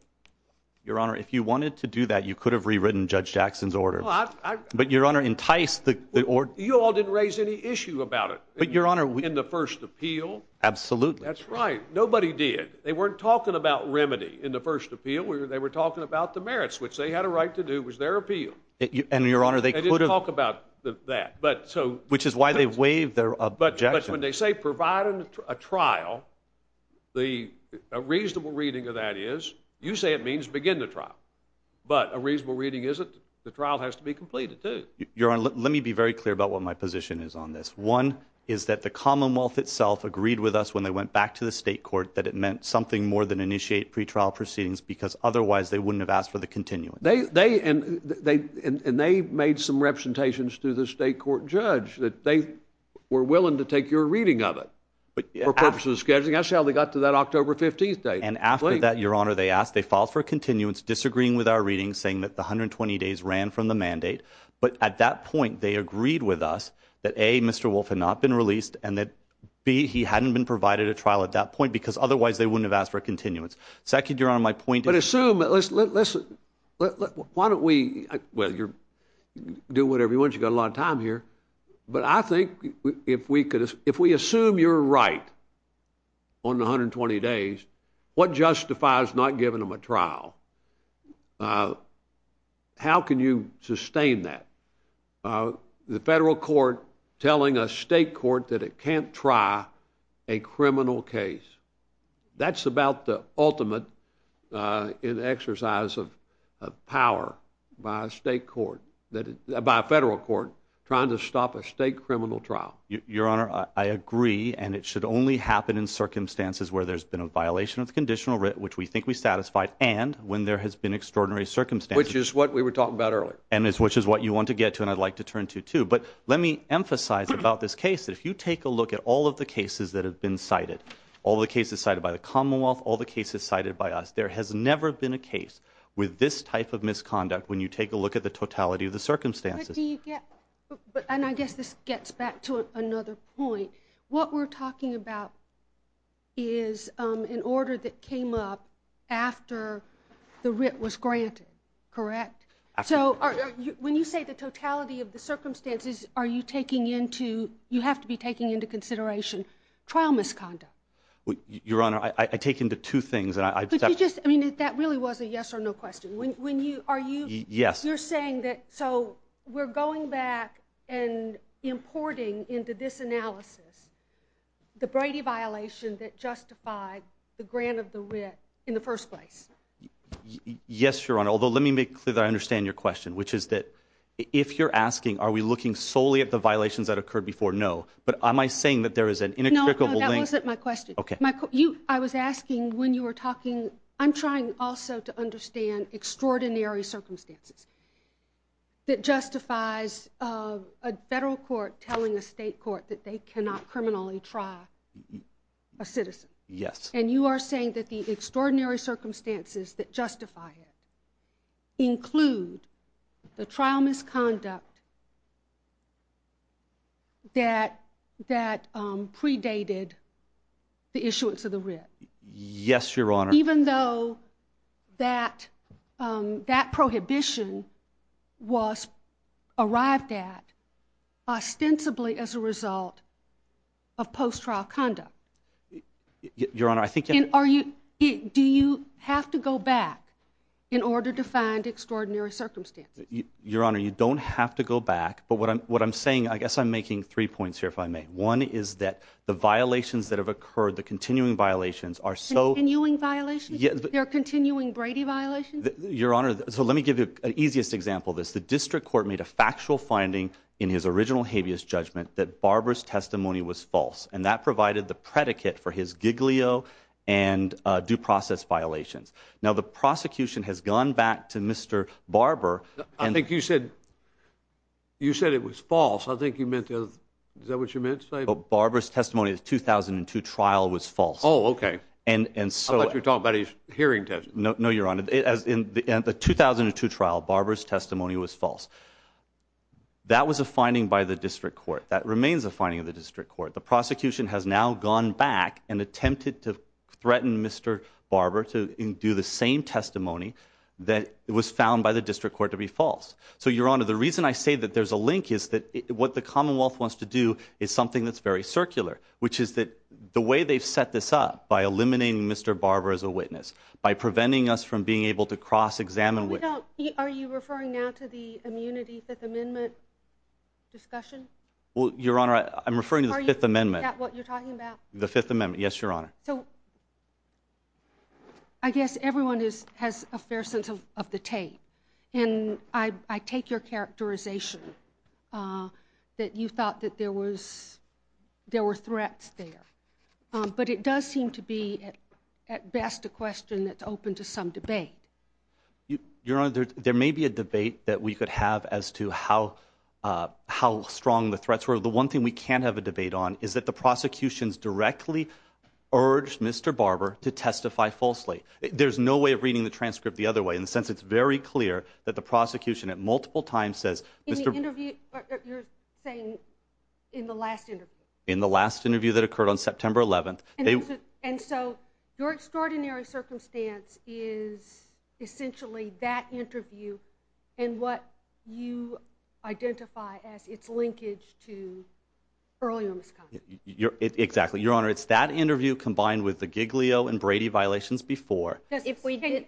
Your Honor, if you wanted to do that, you could have rewritten judge Jackson's order, but your Honor enticed the, or you all didn't raise any issue about it, but your Honor, in the first appeal. Absolutely. That's right. Nobody did. They weren't talking about remedy in the first appeal where they were talking about the merits, which they had a right to do was their appeal. And your Honor, they could have talked about that, but so, which is why they waive their, but when they say providing a trial, the reasonable reading of that is you say it means begin the trial, but a reasonable reading. Isn't the trial has to be completed. You're on. Let me be very clear about what my position is on this. One is that the Commonwealth itself agreed with us when they went back to the state court, but it meant something more than initiate pre-trial proceedings because otherwise they wouldn't have asked for the continuum. They, they, and they, and they made some representations to the state court judge that they were willing to take your reading of it, but for purposes of scheduling, that's how they got to that October 15th date. And after that, your Honor, they asked, they filed for continuance, disagreeing with our readings, saying that the 120 days ran from the mandate. But at that point, they agreed with us that a Mr. Wolf had not been released and that B, he hadn't been provided a trial. At that point, because otherwise they wouldn't have asked for a continuance. So I could, you're on my point, but assume, let's listen. Why don't we, well, you're doing whatever you want. You got a lot of time here, but I think if we could, if we assume you're right on the 120 days, what justifies not giving them a trial? How can you sustain that? The federal court telling a state court that it can't try a criminal case. That's about the ultimate exercise of power by a state court, by a federal court, trying to stop a state criminal trial. Your Honor, I agree, and it should only happen in circumstances where there's been a violation of the conditional writ, which we think we satisfied, and when there has been extraordinary circumstances. Which is what we were talking about earlier. Which is what you want to get to, and I'd like to turn to too, but let me emphasize about this case, if you take a look at all of the cases that have been cited, all the cases cited by the Commonwealth, all the cases cited by us, there has never been a case with this type of misconduct when you take a look at the totality of the circumstances. But do you get, and I guess this gets back to another point, what we're talking about is an order that came up after the writ was granted, correct? So when you say the totality of the circumstances, are you taking into, you have to be taking into consideration, trial misconduct. Your Honor, I take into two things. I mean, that really was a yes or no question. Are you, yes, you're saying that, so we're going back and importing into this analysis, the Brady violation that justified the grant of the writ in the first place. Yes, Your Honor. Although, let me make sure that I understand your question, which is that if you're asking, are we looking solely at the violations that occurred before? No, but am I saying that there is an inextricable link? That wasn't my question. Okay. I was asking when you were talking, I'm trying also to understand extraordinary circumstances that justifies a federal court telling the state court that they cannot criminally try a citizen. Yes. And you are saying that the extraordinary circumstances that justify it include the trial misconduct that predated the issuance of the writ. Yes, Your Honor. Even though that, that prohibition was arrived at ostensibly as a result of post trial conduct. Your Honor, I think, are you, do you have to go back in order to find extraordinary circumstances? Your Honor, you don't have to go back. But what I'm, what I'm saying, I guess I'm making three points here if I may. One is that the violations that have occurred, the continuing violations are so. Continuing violations? Yes. There are continuing Brady violations? Your Honor, so let me give you an easiest example of this. The district court made a factual finding in his original habeas judgment that Barbara's testimony was false. And that provided the predicate for his Giglio and due process violation. Now, the prosecution has gone back to Mr. Barber. I think you said, you said it was false. I think you meant to. Is that what you meant to say? Barbara's testimony is 2002 trial was false. Oh, okay. And, so you're talking about his hearing test. No, no, Your Honor. In the 2002 trial, Barbara's testimony was false. That was a finding by the district court. That remains a finding of the district court. The prosecution has now gone back and attempted to threaten Mr. Barber to do the same testimony that was found by the district court to be false. So, Your Honor, the reason I say that there's a link is that what the Commonwealth wants to do is something that's very circular, which is that the way they set this up by eliminating Mr. Barber as a witness by preventing us from being able to cross examine. Are you referring now to the immunity? Fifth Amendment discussion? Well, Your Honor, I'm referring to the Fifth Amendment. Is that what you're talking about? The Fifth Amendment. Yes, Your Honor. So, I guess everyone has a fair sense of the tape, and I take your characterization that you thought that there was, there were threats there, but it does seem to be, at best, a question that's open to some debate. Your Honor, there may be a debate that we could have as to how, how strong the threats were. So, the one thing we can have a debate on is that the prosecution's directly urged Mr. Barber to testify falsely. There's no way of reading the transcript the other way, and since it's very clear that the prosecution at multiple times says, Mr. In the interview, you're saying in the last interview. In the last interview that occurred on September 11th. And so, your extraordinary circumstance is essentially that interview and what you identify as its linkage to early on. Exactly. Your Honor, it's that interview combined with the Giglio and Brady violations before. If we didn't,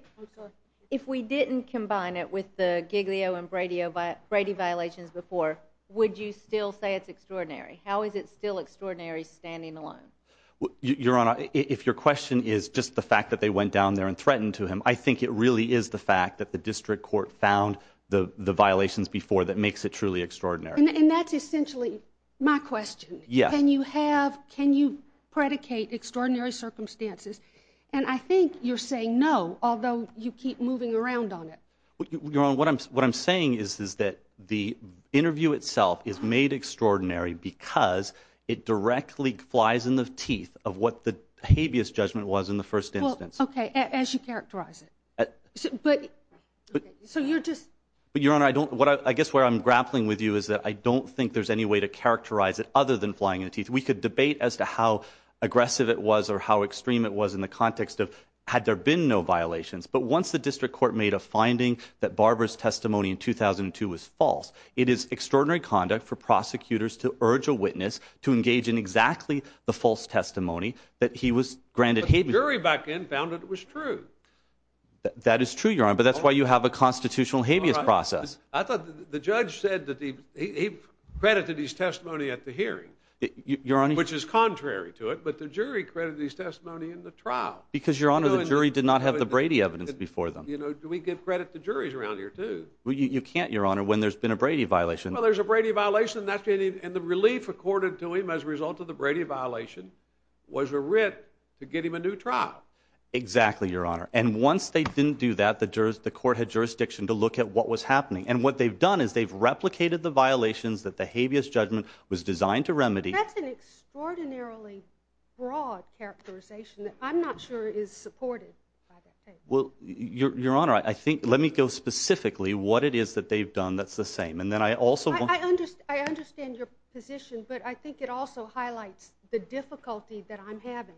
if we didn't combine it with the Giglio and radio, but Brady violations before, would you still say it's extraordinary? How is it still extraordinary standing alone? Your Honor, if your question is just the fact that they went down there and threatened to him, I think it really is the fact that the district court found the violations before that makes it truly extraordinary. And that's essentially my question. Yeah. Can you have, can you predicate extraordinary circumstances? And I think you're saying no, although you keep moving around on it. Your Honor, what I'm, what I'm saying is, is that the interview itself is made extraordinary because it directly flies in the teeth of what the habeas judgment was in the first instance. Okay. As you characterize it. But, but, so you're just. But Your Honor, I don't, what I guess where I'm grappling with you is that I don't think there's any way to characterize it other than flying in the teeth. We could debate as to how aggressive it was or how extreme it was in the context of had there been no violations. But once the district court made a finding that Barbara's testimony in 2002 was false, it is extraordinary conduct for prosecutors to urge a witness to engage in exactly the false testimony that he was granted. The jury back then found that it was true. That is true, Your Honor. But that's why you have a constitutional habeas process. I thought the judge said that he credited his testimony at the hearing. Your Honor, which is contrary to it, but the jury credited his testimony in the trial. Because Your Honor, the jury did not have the Brady evidence before them. You know, do we give credit to juries around here too? Well, you can't, Your Honor, when there's been a Brady violation. Well, there's a Brady violation. That's it. And the relief accorded to him as a result of the Brady violation was a writ to get him a new trial. Exactly, Your Honor. And once they didn't do that, the court had jurisdiction to look at what was happening. And what they've done is they've replicated the violations that the habeas judgment was designed to remedy. That's an extraordinarily broad characterization that I'm not sure is supported by the case. Well, Your Honor, I think, let me go specifically what it is that they've done that's the same. And then I also, I understand your position, but I think it also highlights the difficulty that I'm having.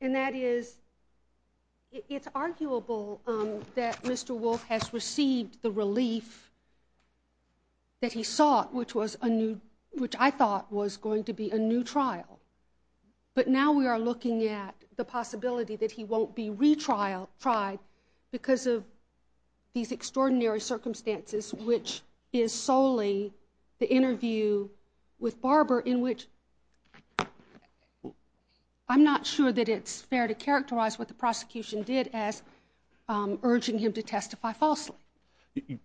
And that is, it's arguable that Mr. Wolf has received the relief that he sought, which was a new, which I thought was going to be a new trial. But now we are looking at the possibility that he won't be retried because of these extraordinary circumstances, which is solely the interview with Barbara in which I'm not sure that it's fair to characterize what the prosecution did as urging him to testify falsely.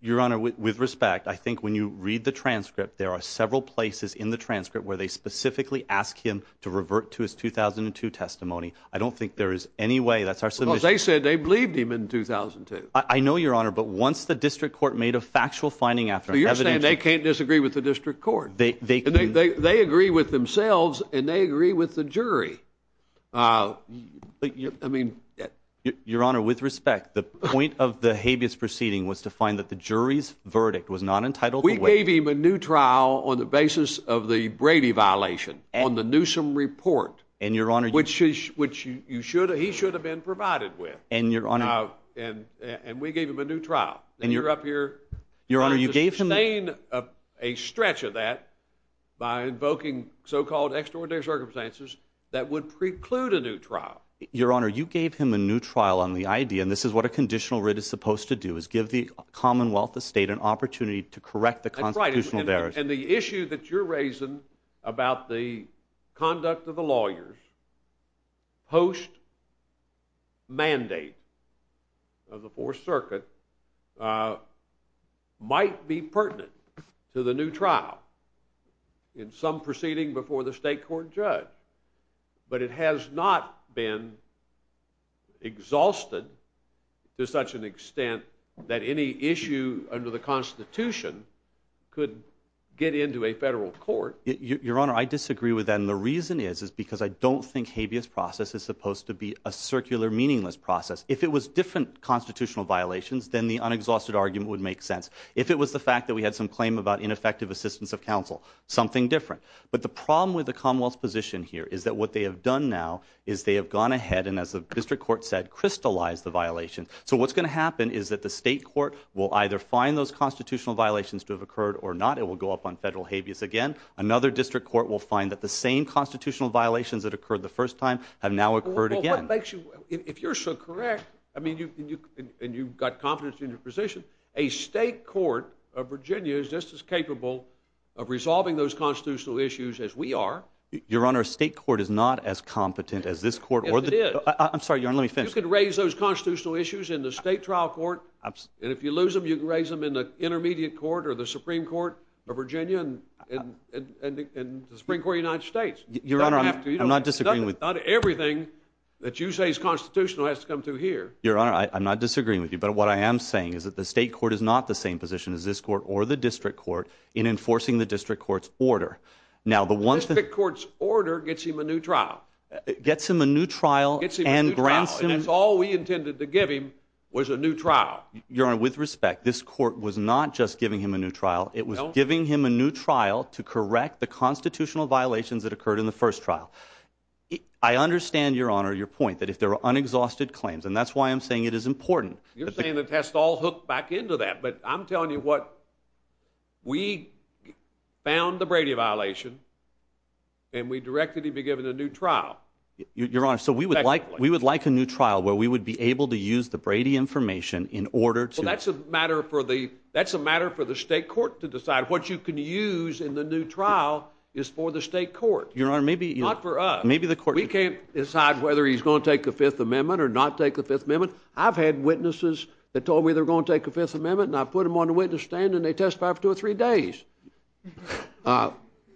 Your Honor, with respect, I think when you read the transcript, there are several places in the transcript where they specifically ask him to revert to his 2002 testimony. I don't think there is any way that's our solution. They said they believed him in 2002. I know, Your Honor. But once the district court made a factual finding after they can't disagree with the district court, they agree with themselves and they agree with the jury. I mean, Your Honor, with respect, the point of the habeas proceeding was to find that the jury's verdict was not entitled. We gave him a new trial on the basis of the Brady violation on the Newsom report. And Your Honor, which is, which you should, he should have been provided with. And Your Honor, and we gave him a new trial. And you're up here. Your Honor, you gave him a stretch of that by invoking so-called extraordinary circumstances that would preclude a new trial. Your Honor, you gave him a new trial on the idea, and this is what a conditional writ is supposed to do, is give the Commonwealth of State an opportunity to correct the constitutional barriers. And the issue that you're raising about the conduct of the lawyers post-mandate of the Fourth Circuit might be pertinent to the new trial in some proceeding before the state court judge. But it has not been exhausted to such an extent that any issue under the Constitution could get into a federal court. Your Honor, I disagree with that. And the reason is, is because I don't think habeas process is supposed to be a circular, meaningless process. If it was different constitutional violations, then the unexhausted argument would make sense. If it was the fact that we had some claim about ineffective assistance of counsel, something different. But the problem with the Commonwealth's position here is that what they have done now is they have gone ahead and, as the district court said, crystallized the violation. So what's going to happen is that the state court will either find those constitutional violations to have occurred or not. It will go up on federal habeas again. Another district court will find that the same constitutional violations that occurred the first time have now occurred again. If you're so correct, I mean, and you've got confidence in your position, a state court of Virginia is just as capable of resolving those constitutional issues as we are. Your Honor, a state court is not as competent as this court. I'm sorry. Your Honor, let me finish. You could raise those constitutional issues in the state trial court. And if you lose them, you can raise them in the intermediate court or the Supreme Court of Virginia and the Supreme Court of the United States. Your Honor, I'm not disagreeing. Not everything that you say is constitutional has to come through here. Your Honor, I'm not disagreeing with you. But what I am saying is that the state court is not the same position as this court or the district court in enforcing the district court's order. Now, the one district court's order gets him a new trial. It gets him a new trial and grants him. All we intended to give him was a new trial. Your Honor, with respect, this court was not just giving him a new trial. It was giving him a new trial to correct the constitutional violations that occurred in the first trial. I understand, Your Honor, your point that if there are unexhausted claims, and that's why I'm saying it is important. You're saying the test all hooked back into that, but I'm telling you what. We found the Brady violation. And we directly be given a new trial. Your Honor, so we would like we would like a new trial where we would be able to use the Brady information in order to. That's a matter for the. That's a matter for the state court to decide what you can use in the new trial is for the state court. Your Honor, maybe you offer up maybe the court. We can't decide whether he's going to take the Fifth Amendment or not take the Fifth Amendment. I've had witnesses that told me they're going to take the Fifth Amendment and I put him on the witness stand and they testify for two or three days.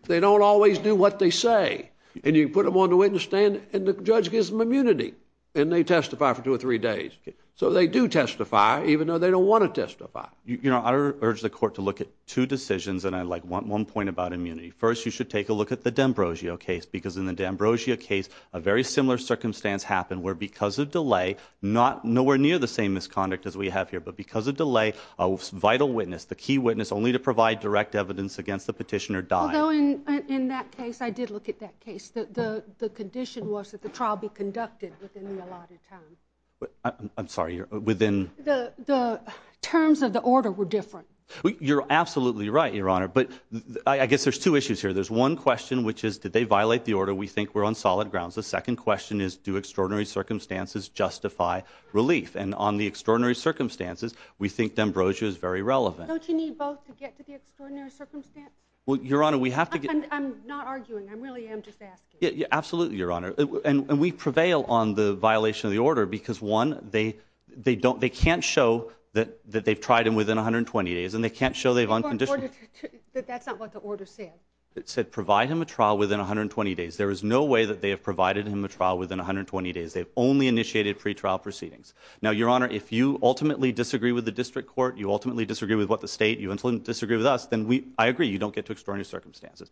They don't always do what they say and you put them on the witness stand and the judge gives them immunity and they testify for two or three days. So they do testify even though they don't want to testify. You know, I urge the court to look at two decisions and I like one one point about immunity. First, you should take a look at the D'Ambrosio case because in the D'Ambrosio case, a very similar circumstance happened where because of delay, not nowhere near the same misconduct as we have here, but because of delay, a vital witness, the key witness only to provide direct evidence against the petitioner died. In that case, I did look at that case. The condition was that the trial be conducted. I'm sorry, you're within the terms of the order were different. You're absolutely right. Your Honor, but I guess there's two issues here. There's one question, which is, did they violate the order? We think we're on solid grounds. The second question is, do extraordinary circumstances justify relief? And on the extraordinary circumstances, we think D'Ambrosio is very relevant. Don't you need both to get to the extraordinary circumstance? Well, Your Honor, we have to be. I'm not arguing. I'm really just asking. Absolutely, Your Honor. And we prevail on the violation of the order because one, they, they don't, they can't show that they've tried them within 120 days and they can't show they've unconditionally. But that's not what the order said. It said, provide him a trial within 120 days. There is no way that they have provided him a trial within 120 days. They've only initiated pretrial proceedings. Now, Your Honor, if you ultimately disagree with the district court, you ultimately disagree with what the state you disagree with us, then we, I agree. You don't get to extraordinary circumstances,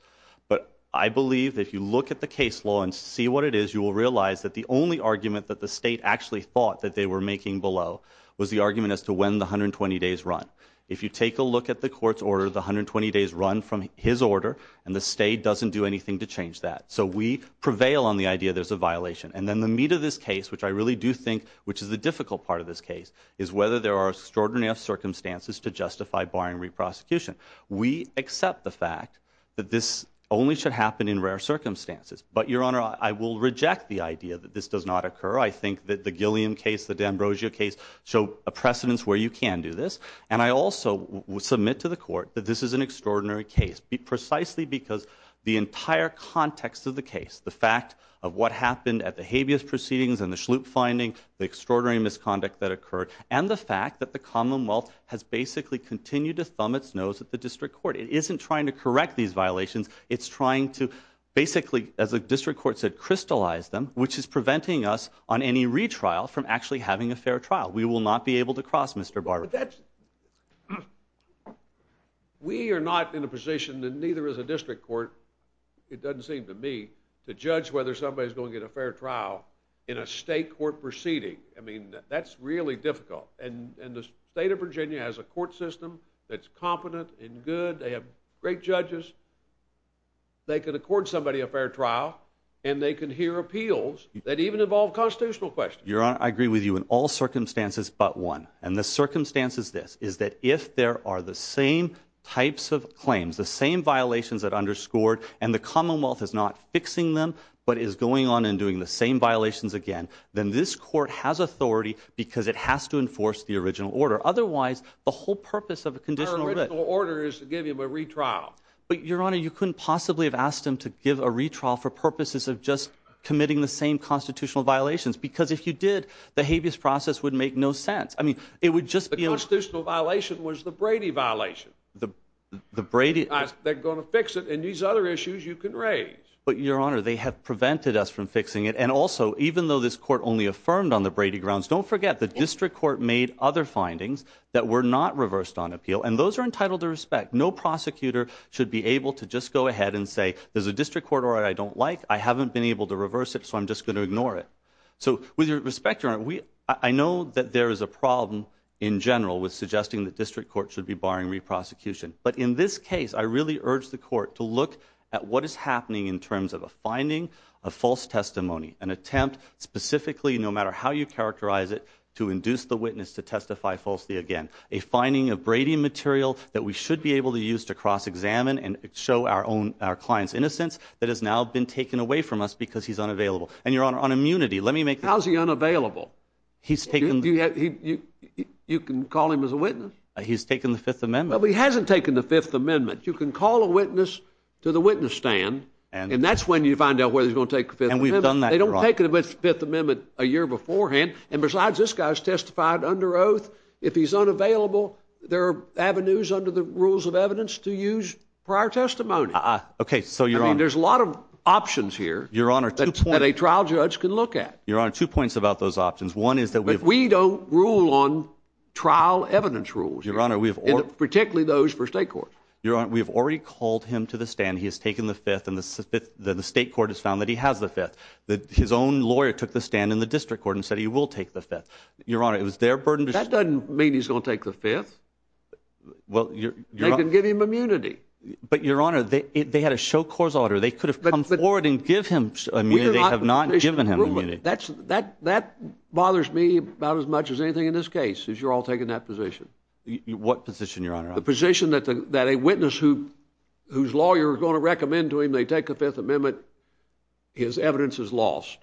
but I believe that if you look at the case law and see what it is, you will realize that the only argument that the state actually thought that they were making below was the argument as to when the 120 days run. If you take a look at the court's orders, 120 days run from his order, and the state doesn't do anything to change that. So we prevail on the idea. There's a violation. And then the meat of this case, which I really do think, which is a difficult part of this case is whether there are extraordinary circumstances to justify barring reprosecution. We accept the fact that this only should happen in rare circumstances, but Your Honor, I will reject the idea that this does not occur. I think that the Gilliam case, the d'Ambrosio case, so a precedence where you can do this. And I also submit to the court that this is an extraordinary case, precisely because the entire context of the case, the fact of what happened at the habeas proceedings and the sloop finding extraordinary misconduct that occurred, and the fact that the Commonwealth has basically continued to thumb its nose at the district court. It isn't trying to correct these violations. It's trying to basically, as a district court said, crystallize them, which is preventing us on any retrial from actually having a fair trial. We will not be able to cross Mr. Barber. We are not in a position that neither is a district court. It doesn't seem to me to judge whether somebody is going to get a fair trial in a state court proceeding. I mean, that's really difficult. And the state of Virginia has a court system that's competent and good. They have great judges. They could accord somebody a fair trial, and they can hear appeals that even involve constitutional questions. Your Honor, I agree with you in all circumstances, but one. And the circumstance is this, is that if there are the same types of claims, the same violations that underscored, and the Commonwealth is not fixing them, but is going on and doing the same violations again, then this court has authority because it has to enforce the original order. Otherwise, the whole purpose of a conditional order is to give him a retrial. But Your Honor, you couldn't possibly have asked him to give a retrial for purposes of just committing the same constitutional violations, because if you did, the habeas process would make no sense. I mean, it would just be a. The constitutional violation was the Brady violation. The Brady. They're going to fix it, and these other issues you can raise. But Your Honor, they have prevented us from fixing it. And also, even though this court only affirmed on the Brady grounds, don't forget the district court made other findings that were not reversed on appeal, and those are entitled to respect. No prosecutor should be able to just go ahead and say, there's a district court order I don't like. I haven't been able to reverse it, so I'm just going to ignore it. So with your respect, Your Honor, I know that there is a problem in general with suggesting that district court should be barring reprosecution. But in this case, I really urge the court to look at what is happening in terms of a finding of false testimony, an attempt specifically, no matter how you characterize it, to induce the witness to testify falsely again, a finding of Brady material that we should be able to use to cross examine and show our own clients innocent that has now been taken away from us because he's unavailable. And Your Honor, How is he unavailable? You can call him as a witness. He's taken the Fifth Amendment. But he hasn't taken the Fifth Amendment. You can call a witness to the witness stand, and that's when you find out whether he's going to take the Fifth Amendment. And we've done that, Your Honor. They don't take the Fifth Amendment a year beforehand. And besides, this guy's testified under oath. If he's unavailable, there are avenues under the rules of evidence to use prior testimony. Okay, so Your Honor, I mean, there's a lot of options here. Your Honor, that a trial judge can look at. Your Honor, two points about those options. One is that we don't rule on trial evidence rules, Your Honor, particularly those for state court. Your Honor, we've already called him to the stand. He has taken the Fifth, and the state court has found that he has the Fifth. His own lawyer took the stand in the district court and said he will take the Fifth. Your Honor, it was their burden. That doesn't mean he's going to take the Fifth. Well, Your Honor, They can give him immunity. But Your Honor, they had a show court order. They could have come forward and given him immunity. They have not given him immunity. That bothers me about as much as anything in this case, is you're all taking that position. What position, Your Honor? The position that a witness whose lawyer is going to recommend to him they take the Fifth Amendment, his evidence is lost.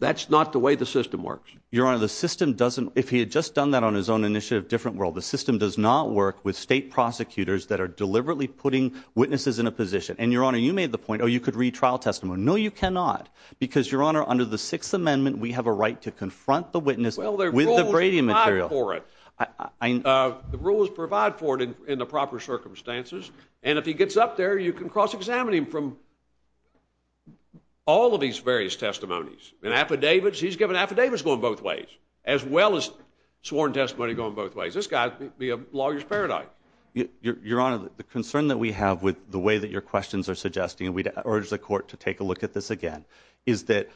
That's not the way the system works. Your Honor, the system doesn't. If he had just done that on his own initiative, different world. The system does not work with state prosecutors that are deliberately putting witnesses in a position. And, Your Honor, you made the point, oh, you could read trial testimony. No, you cannot. Because, Your Honor, under the Sixth Amendment, we have a right to confront the witness with the Brady material. Well, the rules provide for it. The rules provide for it in the proper circumstances. And if he gets up there, you can cross-examine him from all of these various testimonies. And affidavits, he's given affidavits going both ways, as well as sworn testimony going both ways. This guy could be a lawyer's paradigm. Your Honor, the concern that we have with the way that your questions are suggesting, and we'd urge the Court to take a look at this again, is that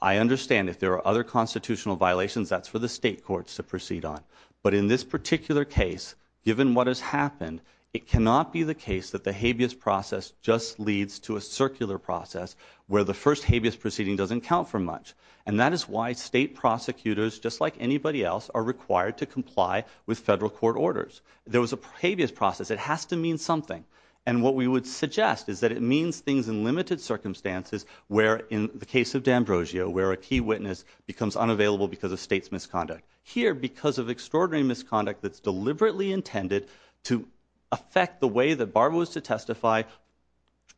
I understand if there are other constitutional violations, that's for the state courts to proceed on. But in this particular case, given what has happened, it cannot be the case that the habeas process just leads to a circular process where the first habeas proceeding doesn't count for much. And that is why state prosecutors, just like anybody else, are required to comply with federal court orders. There was a habeas process. It has to mean something. And what we would suggest is that it means things in limited circumstances where, in the case of D'Ambrosio, where a key witness becomes unavailable because of state's misconduct. Here, because of extraordinary misconduct that's deliberately intended to affect the way that Barbara was to testify,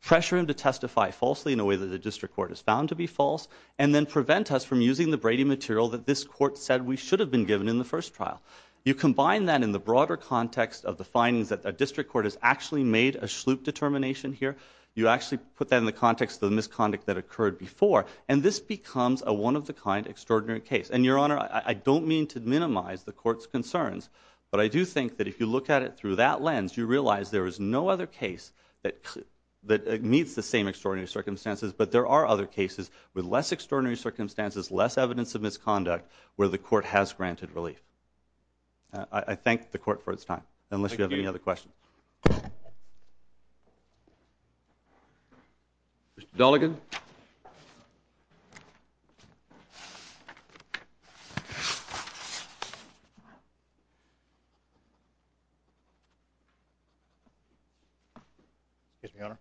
pressure him to testify falsely in a way that the district court is bound to be false, and then prevent us from using the Brady material that this court said we should have been given in the first trial. You combine that in the broader context of the findings that the district court has actually made a sloop determination here. You actually put that in the context of the misconduct that occurred before, and this becomes a one-of-a-kind extraordinary case. And, Your Honor, I don't mean to minimize the court's concerns, but I do think that if you look at it through that lens, you realize there is no other case that meets the same extraordinary circumstances, but there are other cases with less extraordinary circumstances, less evidence of misconduct, where the court has granted relief. I thank the court for its time, unless you have any other questions. Thank you. Mr. Delegan? Excuse me, Your Honor.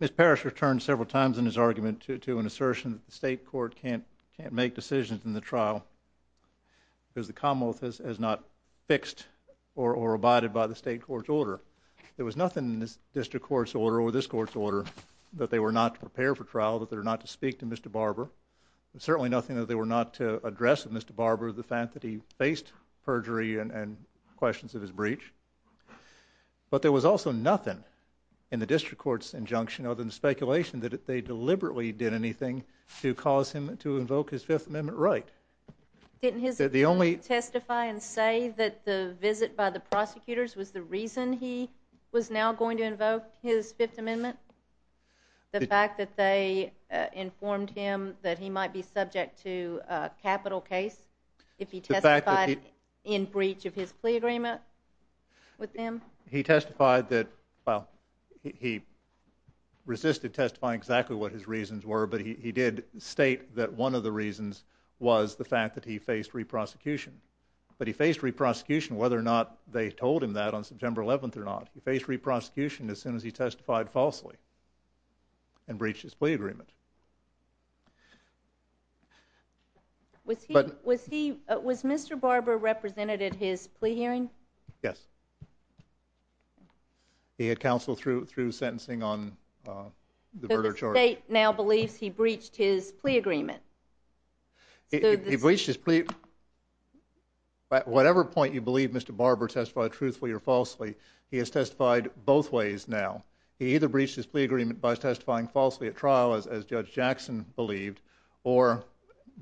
Ms. Parrish returned several times in his argument to an assertion that the state court can't make decisions in the trial because the commonwealth has not fixed or abided by the state court's order. There was nothing in this district court's order or this court's order that they were not to prepare for trial, that they were not to speak to Mr. Barber. There's certainly nothing that they were not to address with Mr. Barber over the fact that he faced perjury and questions of his breach. But there was also nothing in the district court's injunction other than speculation that they deliberately did anything to cause him to invoke his Fifth Amendment right. Didn't his client testify and say that the visit by the prosecutors was the reason he was now going to invoke his Fifth Amendment? The fact that they informed him that he might be subject to capital case if he testified in breach of his plea agreement with them? He testified that, well, he resisted testifying exactly what his reasons were, but he did state that one of the reasons was the fact that he faced re-prosecution. But he faced re-prosecution whether or not they told him that on September 11th or not. He faced re-prosecution as soon as he testified falsely and breached his plea agreement. Was Mr. Barber represented at his plea hearing? Yes. He had counsel through sentencing on the verdict. So the state now believes he breached his plea agreement? He breached his plea. At whatever point you believe Mr. Barber testified truthfully or falsely, he has testified both ways now. He either breached his plea agreement by testifying falsely at trial, as Judge Jackson believed, or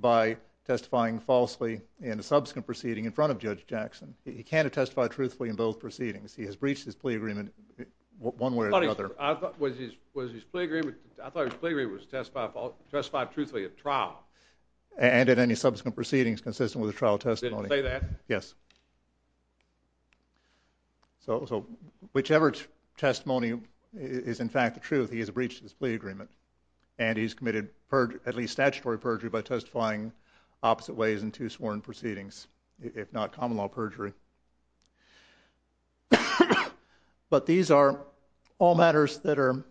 by testifying falsely in a subsequent proceeding in front of Judge Jackson. He can't have testified truthfully in both proceedings. He has breached his plea agreement one way or another. I thought his plea agreement was to testify truthfully at trial. And at any subsequent proceedings consistent with a trial testimony. Did he say that? Yes. So whichever testimony is in fact the truth, he has breached his plea agreement. And he's committed at least statutory perjury by testifying opposite ways in two sworn proceedings, if not common law perjury. But these are all matters that are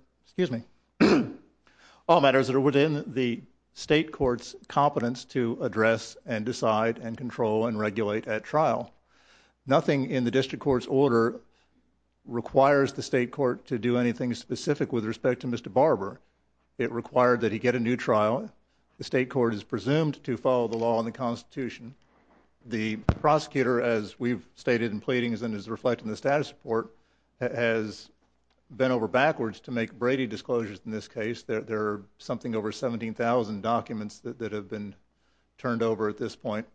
within the state court's competence to address and decide and control and regulate at trial. Nothing in the district court's order requires the state court to do anything specific with respect to Mr. Barber. It required that he get a new trial. The state court is presumed to follow the law and the Constitution. The prosecutor, as we've stated in pleadings and as reflected in the status report, has bent over backwards to make Brady disclosures in this case. There are something over 17,000 documents that have been turned over at this point.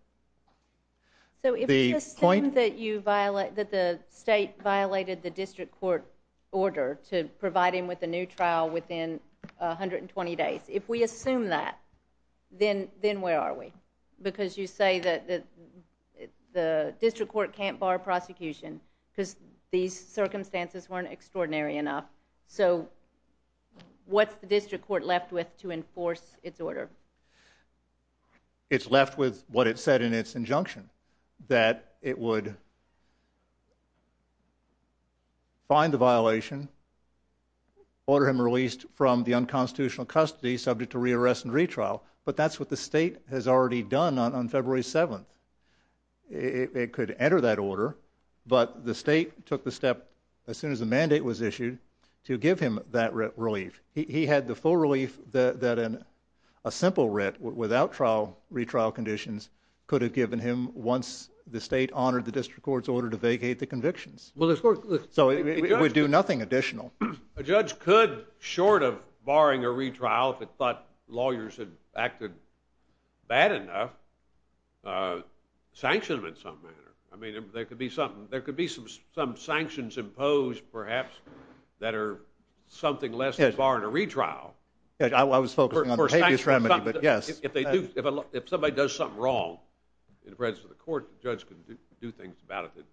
So if it's assumed that the state violated the district court's order to provide him with a new trial within 120 days, if we assume that, then where are we? Because you say that the district court can't bar prosecution because these circumstances weren't extraordinary enough. So what's the district court left with to enforce its order? It's left with what it said in its injunction, that it would find the violation, order him released from the unconstitutional custody subject to rearrest and retrial, but that's what the state has already done on February 7th. It could enter that order, but the state took the step as soon as the mandate was issued to give him that relief. He had the full relief that a simple writ without retrial conditions could have given him once the state honored the district court's order to vacate the convictions. So it would do nothing additional. A judge could, short of barring a retrial if it thought lawyers had acted bad enough, sanction him in some manner. I mean, there could be some sanctions imposed, perhaps, that are something less than barring a retrial. I was focusing on the case remedy, but yes. If somebody does something wrong in the presence of the court, the judge could do things about it that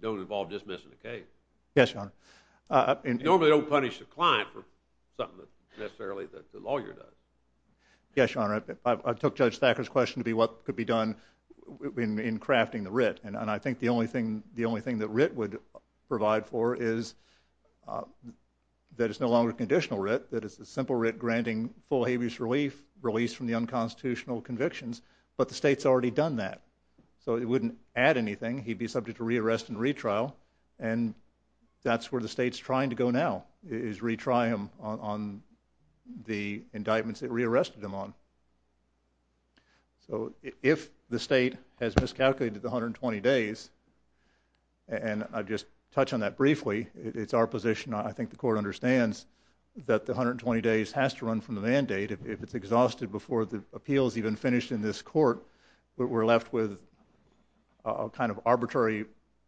don't involve dismissing the case. Yes, Your Honor. Normally they don't punish a client for something necessarily that the lawyer does. Yes, Your Honor. I took Judge Thacker's question to be what could be done in crafting the writ, and I think the only thing the writ would provide for is that it's no longer a conditional writ, that it's a simple writ granting full habeas relief, release from the unconstitutional convictions, but the state's already done that, so it wouldn't add anything. He'd be subject to re-arrest and retrial, and that's where the state's trying to go now, is retry him on the indictments it re-arrested him on. So if the state has miscalculated the 120 days, and I'll just touch on that briefly. It's our position. I think the court understands that the 120 days has to run from the mandate. If it's exhausted before the appeal is even finished in this court, we're left with a kind of arbitrary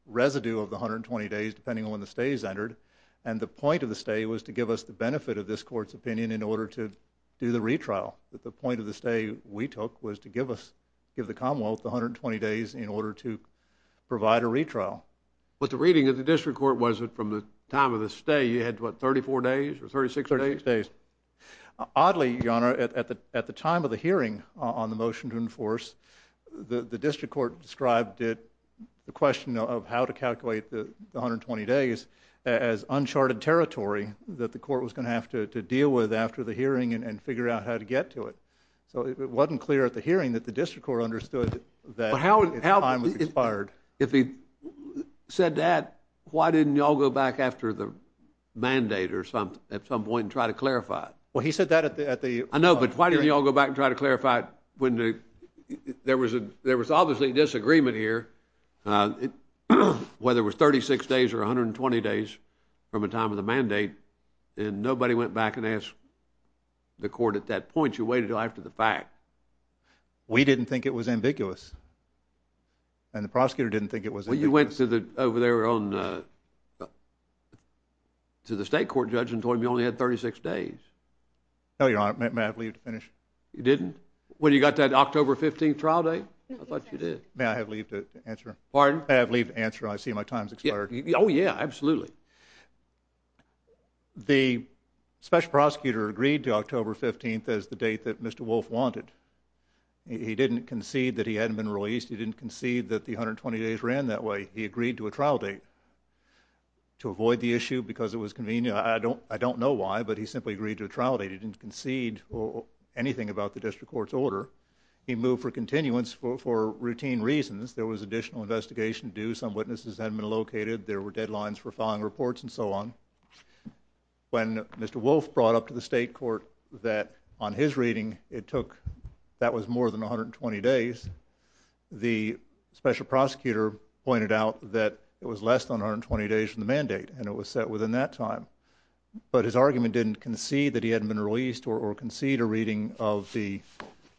residue of the 120 days depending on when the stay is entered, and the point of the stay was to give us the benefit of this court's opinion in order to do the retrial. The point of the stay we took was to give the Commonwealth the 120 days in order to provide a retrial. But the reading of the district court was that from the time of the stay you had, what, 34 days or 36 days? 36 days. Oddly, Your Honor, at the time of the hearing on the motion to enforce, the district court described it, the question of how to calculate the 120 days as uncharted territory that the court was going to have to deal with after the hearing and figure out how to get to it. So it wasn't clear at the hearing that the district court understood that the time was expired. If he said that, why didn't y'all go back after the mandate at some point and try to clarify it? Well, he said that at the... I know, but why didn't y'all go back and try to clarify it when there was obviously disagreement here, whether it was 36 days or 120 days from the time of the mandate, and nobody went back and asked the court at that point, you waited until after the fact. We didn't think it was ambiguous. And the prosecutor didn't think it was. Well, you went over there to the state court judge and told him you only had 36 days. Oh, Your Honor, may I have leave to finish? You didn't? When you got that October 15th trial date? I thought you did. May I have leave to answer? Pardon? May I have leave to answer? I see my time's expired. Oh, yeah, absolutely. The special prosecutor agreed to October 15th as the date that Mr. Wolf wanted. He didn't concede that he hadn't been released. He didn't concede that the 120 days ran that way. He agreed to a trial date to avoid the issue because it was convenient. I don't know why, but he simply agreed to a trial date. He didn't concede anything about the district court's order. He moved for continuance for routine reasons. There was additional investigation due. Some witnesses hadn't been located. There were deadlines for filing reports and so on. When Mr. Wolf brought up to the state court that on his reading it took, that was more than 120 days, the special prosecutor pointed out that it was less than 120 days from the mandate and it was set within that time. But his argument didn't concede that he hadn't been released or concede a reading of the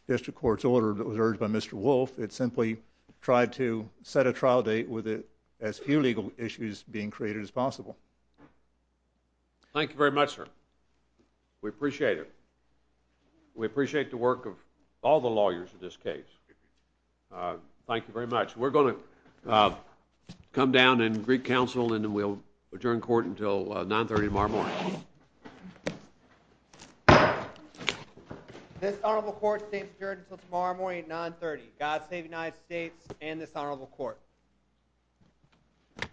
district court's order that was urged by Mr. Wolf. It simply tried to set a trial date with as few legal issues being created as possible. Thank you very much, sir. We appreciate it. We appreciate the work of all the lawyers in this case. Thank you very much. We're going to come down and greet counsel and then we'll adjourn court until 9.30 tomorrow morning. This honorable court stays adjourned until tomorrow morning at 9.30. God save the United States and this honorable court.